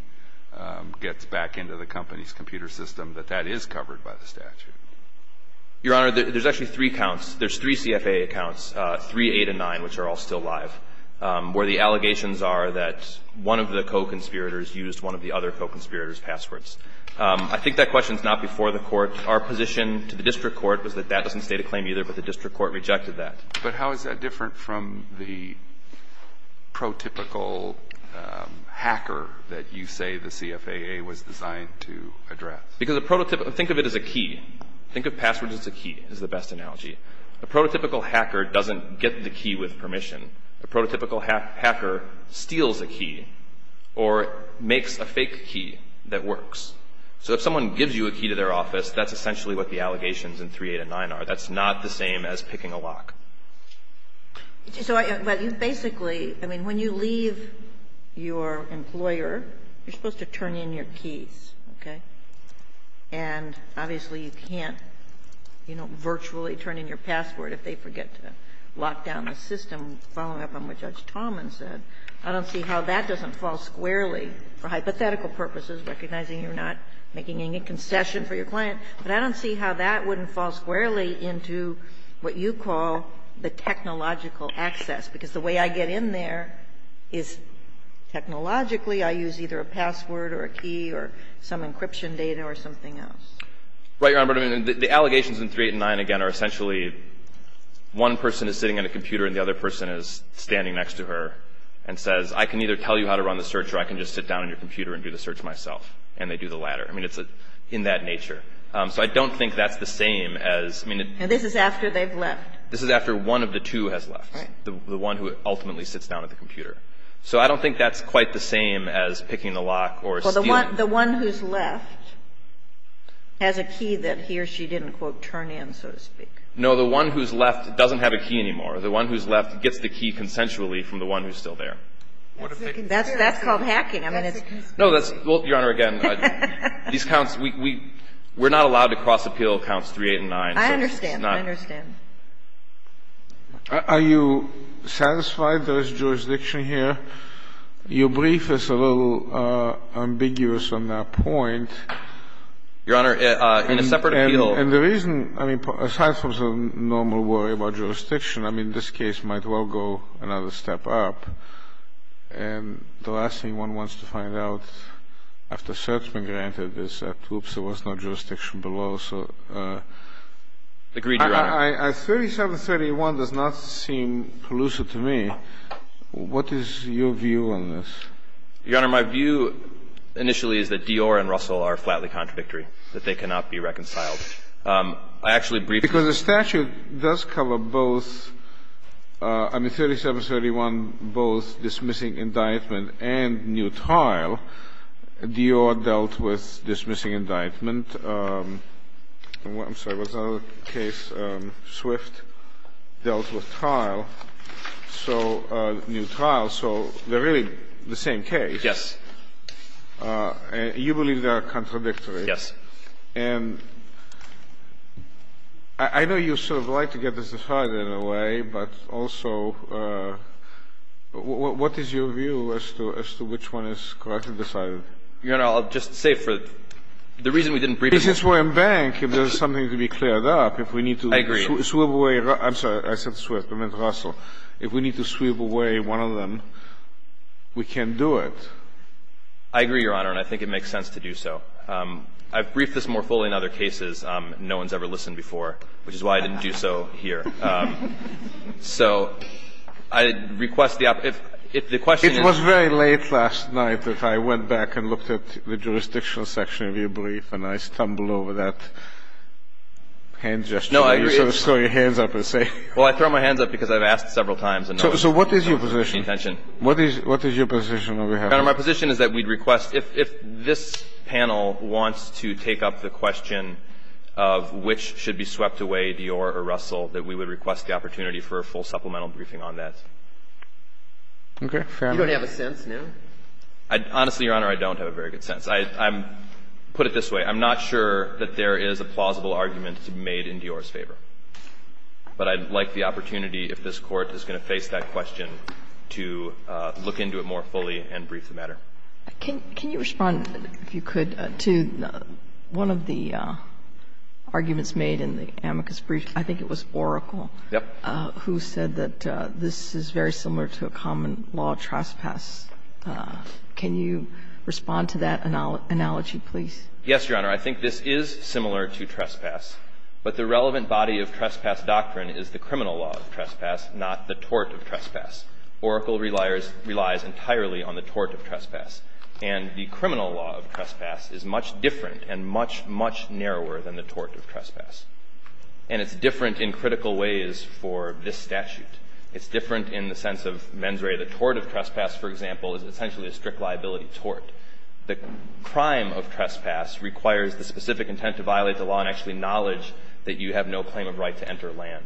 gets back into the company's computer system, that that is covered by the statute? Your Honor, there's actually three counts. There's three CFAA accounts, three, eight, and nine, which are all still live, where the allegations are that one of the co-conspirators used one of the other co-conspirators' passwords. I think that question's not before the court. Our position to the district court was that that doesn't state a claim either, but the district court rejected that. But how is that different from the prototypical hacker that you say the CFAA was designed to address? Because a prototypical... Think of it as a key. Think of passwords as a key, is the best analogy. A prototypical hacker doesn't get the key with permission. A prototypical hacker steals a key or makes a fake key that works. So if someone gives you a key to their office, that's essentially what the allegations in three, eight, and nine are. That's not the same as picking a lock. So basically, I mean, when you leave your employer, you're supposed to turn in your keys, okay? And obviously, you can't, you know, virtually turn in your password if they forget to lock down the system, following up on what Judge Tallman said. I don't see how that doesn't fall squarely, for hypothetical purposes, recognizing you're not making any concession for your client. But I don't see how that wouldn't fall squarely into what you call the technological access, because the way I get in there is technologically I use either a password or a key or some encryption data or something else. Right, Your Honor. The allegations in three, eight, and nine, again, are essentially one person is sitting at a computer and the other person is standing next to her and says, I can either tell you how to run the search or I can just sit down at your computer and do the search myself. And they do the latter. I mean, it's in that nature. So I don't think that's the same as, I mean... And this is after they've left. This is after one of the two has left, the one who ultimately sits down at the computer. So I don't think that's quite the same as picking the lock or stealing. The one who's left has a key that he or she didn't, quote, turn in, so to speak. No. The one who's left doesn't have a key anymore. The one who's left gets the key consensually from the one who's still there. That's called hacking. I mean, it's... No, that's... Well, Your Honor, again, these counts, we're not allowed to cross appeal counts three, eight, and nine. I understand. I understand. Are you satisfied there is jurisdiction here? Your brief is a little ambiguous on that point. Your Honor, in a separate appeal... And the reason, I mean, aside from some normal worry about jurisdiction, I mean, this case might well go another step up. And the last thing one wants to find out after cert's been granted is that, oops, there was no jurisdiction below. So... Agreed, Your Honor. 3731 does not seem collusive to me. What is your view on this? Your Honor, my view initially is that Dior and Russell are flatly contradictory, that they cannot be reconciled. I actually briefed... Because the statute does cover both... I mean, 3731, both dismissing indictment and new tile. Dior dealt with dismissing indictment. I'm sorry, what's another case? Swift dealt with tile. So new tile, so they're really the same case. Yes. You believe they are contradictory. Yes. And I know you sort of like to get this decided in a way, but also what is your view as to which one is correctly decided? Your Honor, I'll just say for the reason we didn't brief... The reasons we're in bank, if there's something to be cleared up, if we need to... I agree. ...sweep away, I'm sorry, I said Swift, I meant Russell. If we need to sweep away one of them, we can't do it. I agree, Your Honor, and I think it makes sense to do so. I've briefed this more fully in other cases. No one's ever listened before, which is why I didn't do so here. So I request the... It was very late last night that I went back and looked at the jurisdictional section of your brief, and I stumbled over that hand gesture. No, I agree. You sort of throw your hands up and say... Well, I throw my hands up because I've asked several times. So what is your position? What is your position on behalf of... Your Honor, my position is that we'd request, if this panel wants to take up the question of which should be swept away, Dior or Russell, that we would request the opportunity for a full supplemental briefing on that. Okay. Fair enough. You don't have a sense now? Honestly, Your Honor, I don't have a very good sense. Put it this way, I'm not sure that there is a plausible argument to be made in Dior's favor, but I'd like the opportunity, if this Court is going to face that question, to look into it more fully and brief the matter. Can you respond, if you could, to one of the arguments made in the amicus brief? I think it was Oracle... Yes. ...who said that this is very similar to a common-law trespass. Yes, Your Honor. I think this is similar to trespass, but the relevant body of trespass doctrine is the criminal law of trespass, not the tort of trespass. Oracle relies entirely on the tort of trespass. And the criminal law of trespass is much different and much, much narrower than the tort of trespass. And it's different in critical ways for this statute. It's different in the sense of mens rea. The tort of trespass, for example, is essentially a strict liability tort. The crime of trespass requires the specific intent to violate the law and actually knowledge that you have no claim of right to enter land.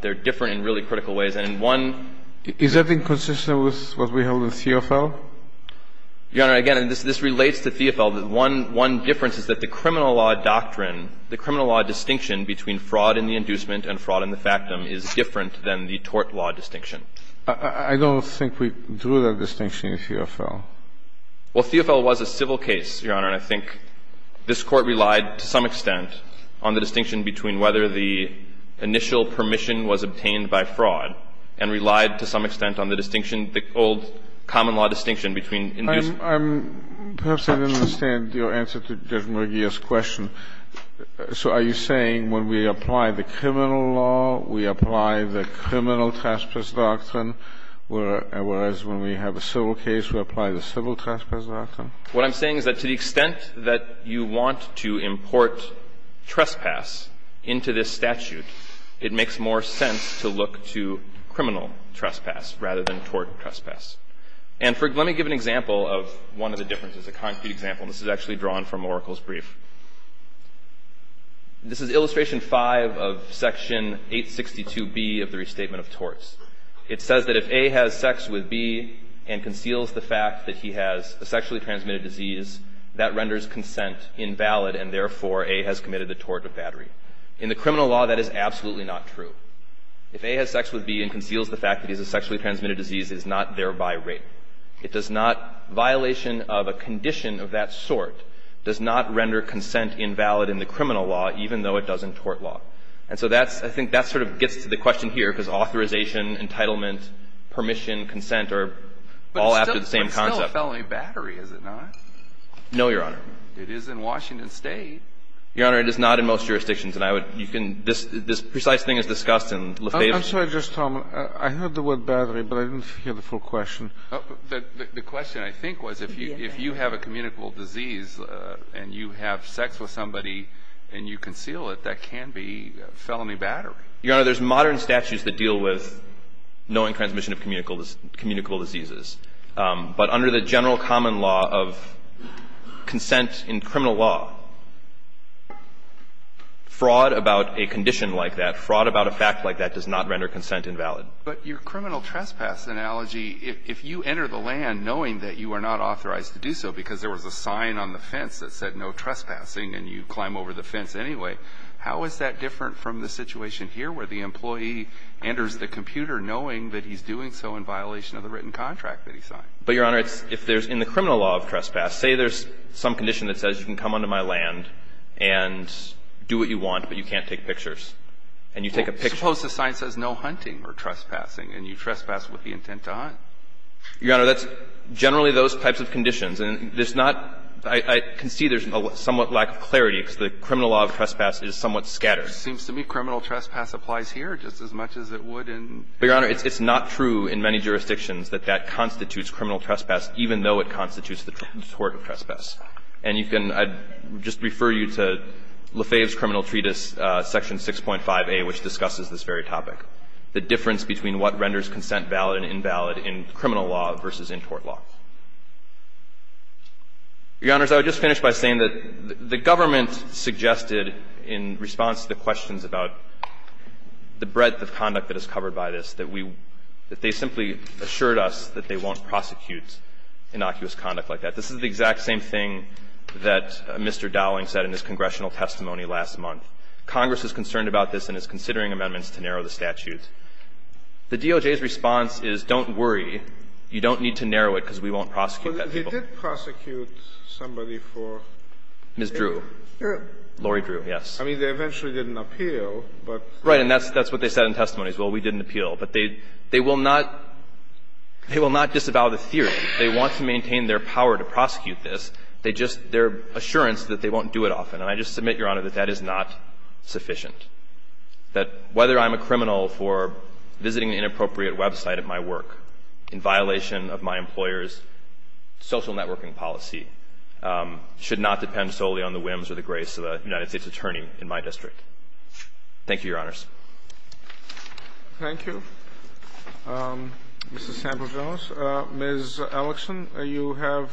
They're different in really critical ways. And one... Is that inconsistent with what we held in Theofel? Your Honor, again, this relates to Theofel. One difference is that the criminal law doctrine, the criminal law distinction between fraud in the inducement and fraud in the factum is different than the tort law distinction. I don't think we drew that distinction in Theofel. Well, Theofel was a civil case, Your Honor, and I think this Court relied to some extent on the distinction between whether the initial permission was obtained by fraud and relied to some extent on the distinction, the old common law distinction between inducement... I'm... Perhaps I didn't understand your answer to Judge Mergia's question. So are you saying when we apply the criminal law, we apply the criminal trespass doctrine, whereas when we have a civil case, we apply the civil trespass doctrine? What I'm saying is that to the extent that you want to import trespass into this statute, it makes more sense to look to criminal trespass rather than tort trespass. And for... Let me give an example of one of the differences, a concrete example. This is actually drawn from Oracle's brief. This is Illustration 5 of Section 862B of the Restatement of Torts. It says that if A has sex with B and conceals the fact that he has a sexually transmitted disease, that renders consent invalid and therefore A has committed the tort of battery. In the criminal law, that is absolutely not true. If A has sex with B and conceals the fact that he has a sexually transmitted disease, it is not thereby rape. It does not... Violation of a condition of that sort does not render consent invalid in the criminal law, even though it does in tort law. And so that's, I think that sort of gets to the question here, because authorization, entitlement, permission, consent are all after the same concept. But it's still a felony battery, is it not? No, Your Honor. It is in Washington State. Your Honor, it is not in most jurisdictions. And I would, you can, this precise thing is discussed in Lafayette. I'm sorry, just a moment. I heard the word battery, but I didn't hear the full question. The question, I think, was if you have a communicable disease and you have sex with B, felony battery. Your Honor, there's modern statutes that deal with knowing transmission of communicable diseases. But under the general common law of consent in criminal law, fraud about a condition like that, fraud about a fact like that does not render consent invalid. But your criminal trespass analogy, if you enter the land knowing that you are not authorized to do so because there was a sign on the fence that said no trespassing and you climb over the fence anyway, how is that different from the situation here where the employee enters the computer knowing that he's doing so in violation of the written contract that he signed? But, Your Honor, if there's in the criminal law of trespass, say there's some condition that says you can come onto my land and do what you want, but you can't take pictures and you take a picture. Suppose the sign says no hunting or trespassing and you trespass with the intent to hunt. Your Honor, that's generally those types of conditions. And there's not – I can see there's a somewhat lack of clarity because the criminal law of trespass is somewhat scattered. It seems to me criminal trespass applies here just as much as it would in the U.S. But, Your Honor, it's not true in many jurisdictions that that constitutes criminal trespass, even though it constitutes the tort of trespass. And you can – I'd just refer you to Lefebvre's criminal treatise, section 6.5a, which discusses this very topic, the difference between what renders consent valid and invalid in criminal law versus in tort law. Your Honors, I would just finish by saying that the government suggested in response to the questions about the breadth of conduct that is covered by this that we – that they simply assured us that they won't prosecute innocuous conduct like that. This is the exact same thing that Mr. Dowling said in his congressional testimony last month. Congress is concerned about this and is considering amendments to narrow the statutes. The DOJ's response is, don't worry, you don't need to narrow it because we won't prosecute that people. Kennedy, he did prosecute somebody for rape? Ms. Drew. Laurie Drew, yes. I mean, they eventually didn't appeal, but – Right. And that's what they said in testimonies. Well, we didn't appeal. But they will not – they will not disavow the theory. They want to maintain their power to prosecute this. They just – their assurance that they won't do it often. And I just submit, Your Honor, that that is not sufficient, that whether I'm a criminal for visiting an inappropriate website at my work in violation of my employer's social networking policy should not depend solely on the whims or the grace of a United States attorney in my district. Thank you, Your Honors. Thank you. Ms. Sample-Jones. Ms. Ellickson, you have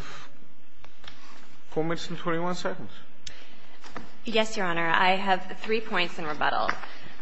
4 minutes and 21 seconds. Yes, Your Honor. I have three points in rebuttal.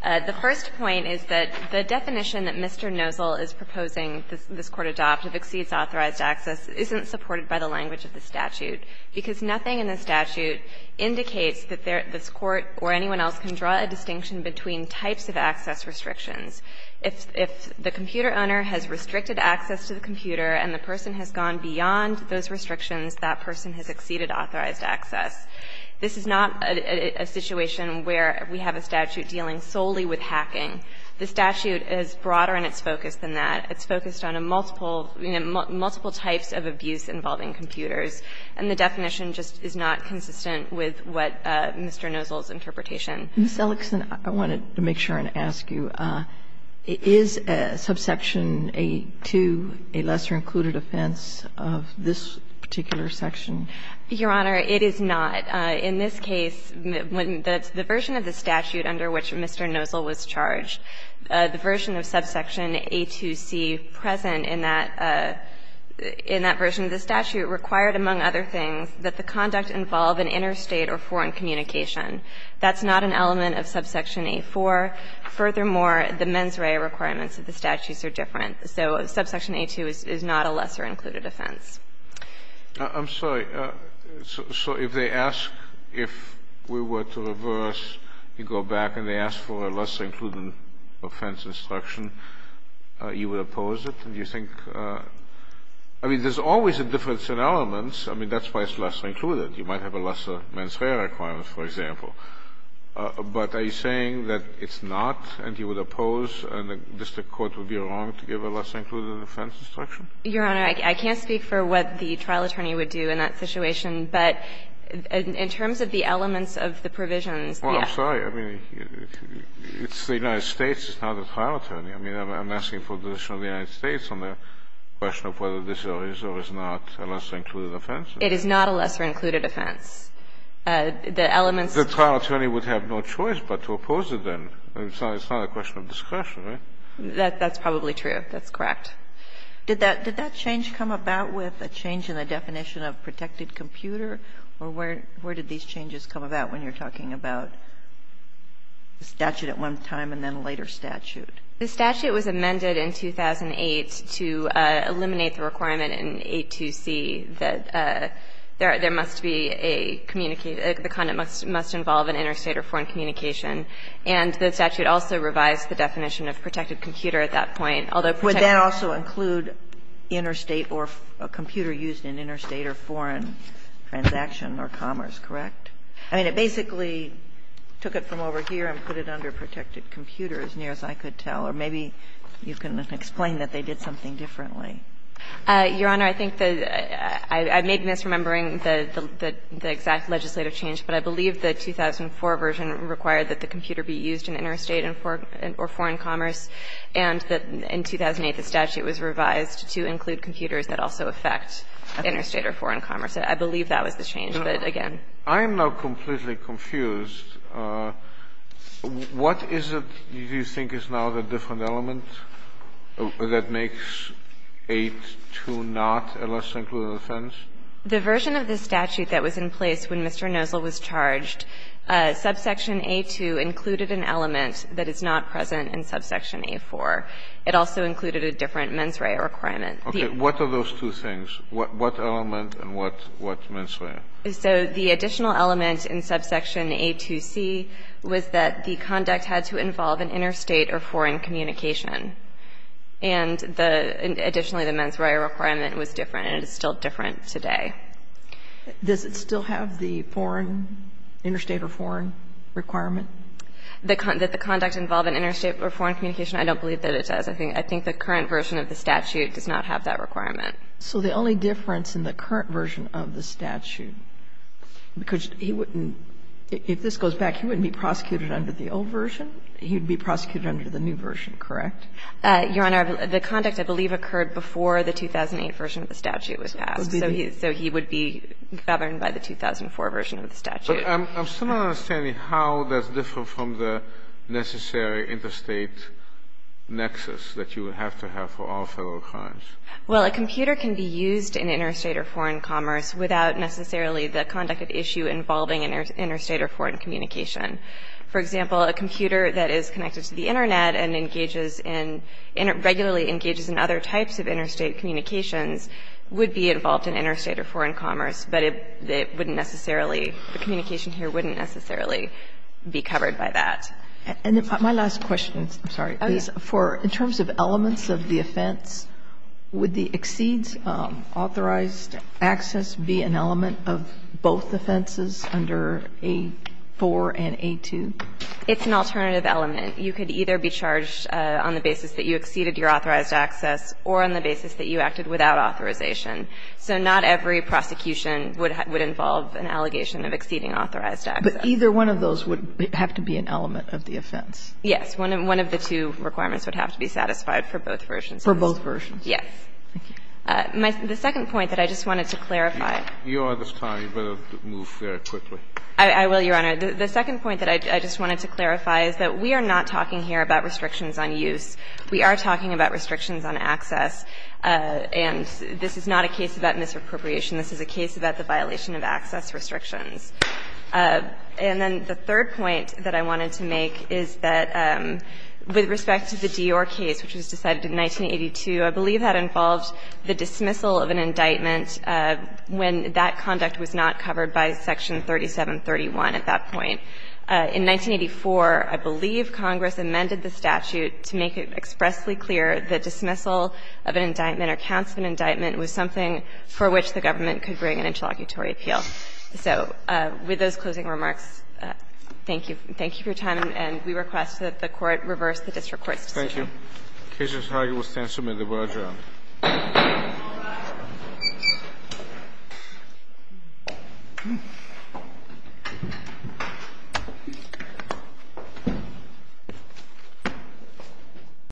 The first point is that the definition that Mr. Nozell is proposing this Court adopt if exceeds authorized access isn't supported by the language of the statute, because nothing in the statute indicates that this Court or anyone else can draw a distinction between types of access restrictions. If the computer owner has restricted access to the computer and the person has gone beyond those restrictions, that person has exceeded authorized access. This is not a situation where we have a statute dealing solely with hacking. The statute is broader in its focus than that. It's focused on a multiple, you know, multiple types of abuse involving computers. And the definition just is not consistent with what Mr. Nozell's interpretation. Ms. Ellickson, I wanted to make sure and ask you, is Subsection 8-2 a lesser-included offense of this particular section? Your Honor, it is not. In this case, the version of the statute under which Mr. Nozell was charged, the version of Subsection 8-2c present in that version of the statute required, among other things, that the conduct involve an interstate or foreign communication. That's not an element of Subsection 8-4. Furthermore, the mens rea requirements of the statutes are different. So Subsection 8-2 is not a lesser-included offense. I'm sorry. So if they ask if we were to reverse, you go back and they ask for a lesser-included offense instruction, you would oppose it? And do you think – I mean, there's always a difference in elements. I mean, that's why it's lesser-included. You might have a lesser mens rea requirement, for example. But are you saying that it's not and you would oppose and the district court would be wrong to give a lesser-included offense instruction? Your Honor, I can't speak for what the trial attorney would do in that situation. But in terms of the elements of the provisions, yes. Well, I'm sorry. I mean, it's the United States. It's not the trial attorney. I mean, I'm asking for the position of the United States on the question of whether this is or is not a lesser-included offense. It is not a lesser-included offense. The elements – The trial attorney would have no choice but to oppose it then. It's not a question of discretion, right? That's probably true. That's correct. Did that change come about with a change in the definition of protected computer? Or where did these changes come about when you're talking about the statute at one time and then a later statute? The statute was amended in 2008 to eliminate the requirement in 82C that there must be a communicate – the conduct must involve an interstate or foreign communication. And the statute also revised the definition of protected computer at that point, although protected – But would that also include interstate or a computer used in interstate or foreign transaction or commerce, correct? I mean, it basically took it from over here and put it under protected computer as near as I could tell. Or maybe you can explain that they did something differently. Your Honor, I think the – I may be misremembering the exact legislative change, but I believe the 2004 version required that the computer be used in interstate or foreign commerce. And in 2008, the statute was revised to include computers that also affect interstate or foreign commerce. I believe that was the change, but again – I am now completely confused. What is it you think is now the different element that makes 820 a less included offense? The version of the statute that was in place when Mr. Nozl was charged, subsection A2 included an element that is not present in subsection A4. It also included a different mens rea requirement. Okay. What are those two things? What element and what mens rea? So the additional element in subsection A2C was that the conduct had to involve an interstate or foreign communication. And the – additionally, the mens rea requirement was different, and it is still different today. Does it still have the foreign – interstate or foreign requirement? That the conduct involve an interstate or foreign communication? I don't believe that it does. I think the current version of the statute does not have that requirement. So the only difference in the current version of the statute, because he wouldn't – if this goes back, he wouldn't be prosecuted under the old version. He would be prosecuted under the new version, correct? Your Honor, the conduct, I believe, occurred before the 2008 version of the statute was passed. So he would be governed by the 2004 version of the statute. But I'm still not understanding how that's different from the necessary interstate nexus that you would have to have for all federal crimes. Well, a computer can be used in interstate or foreign commerce without necessarily the conduct at issue involving an interstate or foreign communication. For example, a computer that is connected to the Internet and engages in – regularly engages in other types of interstate communications would be involved in interstate or foreign commerce. But it wouldn't necessarily – the communication here wouldn't necessarily be covered by that. And my last question – I'm sorry – is for – in terms of elements of the offense, would the exceeds authorized access be an element of both offenses under A-4 and A-2? It's an alternative element. You could either be charged on the basis that you exceeded your authorized access or on the basis that you acted without authorization. So not every prosecution would involve an allegation of exceeding authorized access. But either one of those would have to be an element of the offense. Yes. One of the two requirements would have to be satisfied for both versions. For both versions. Yes. Thank you. The second point that I just wanted to clarify – Your Honor, this time you better move very quickly. I will, Your Honor. The second point that I just wanted to clarify is that we are not talking here about restrictions on use. We are talking about restrictions on access. And this is not a case about misappropriation. This is a case about the violation of access restrictions. And then the third point that I wanted to make is that with respect to the Dior case, which was decided in 1982, I believe that involved the dismissal of an indictment when that conduct was not covered by Section 3731 at that point. In 1984, I believe Congress amended the statute to make it expressly clear the dismissal of an indictment or counts of an indictment was something for which the government could bring an interlocutory appeal. So with those closing remarks, thank you. Thank you for your time. And we request that the Court reverse the district court's decision. Thank you. The case is heard. We will stand to submit the word, Your Honor. All rise.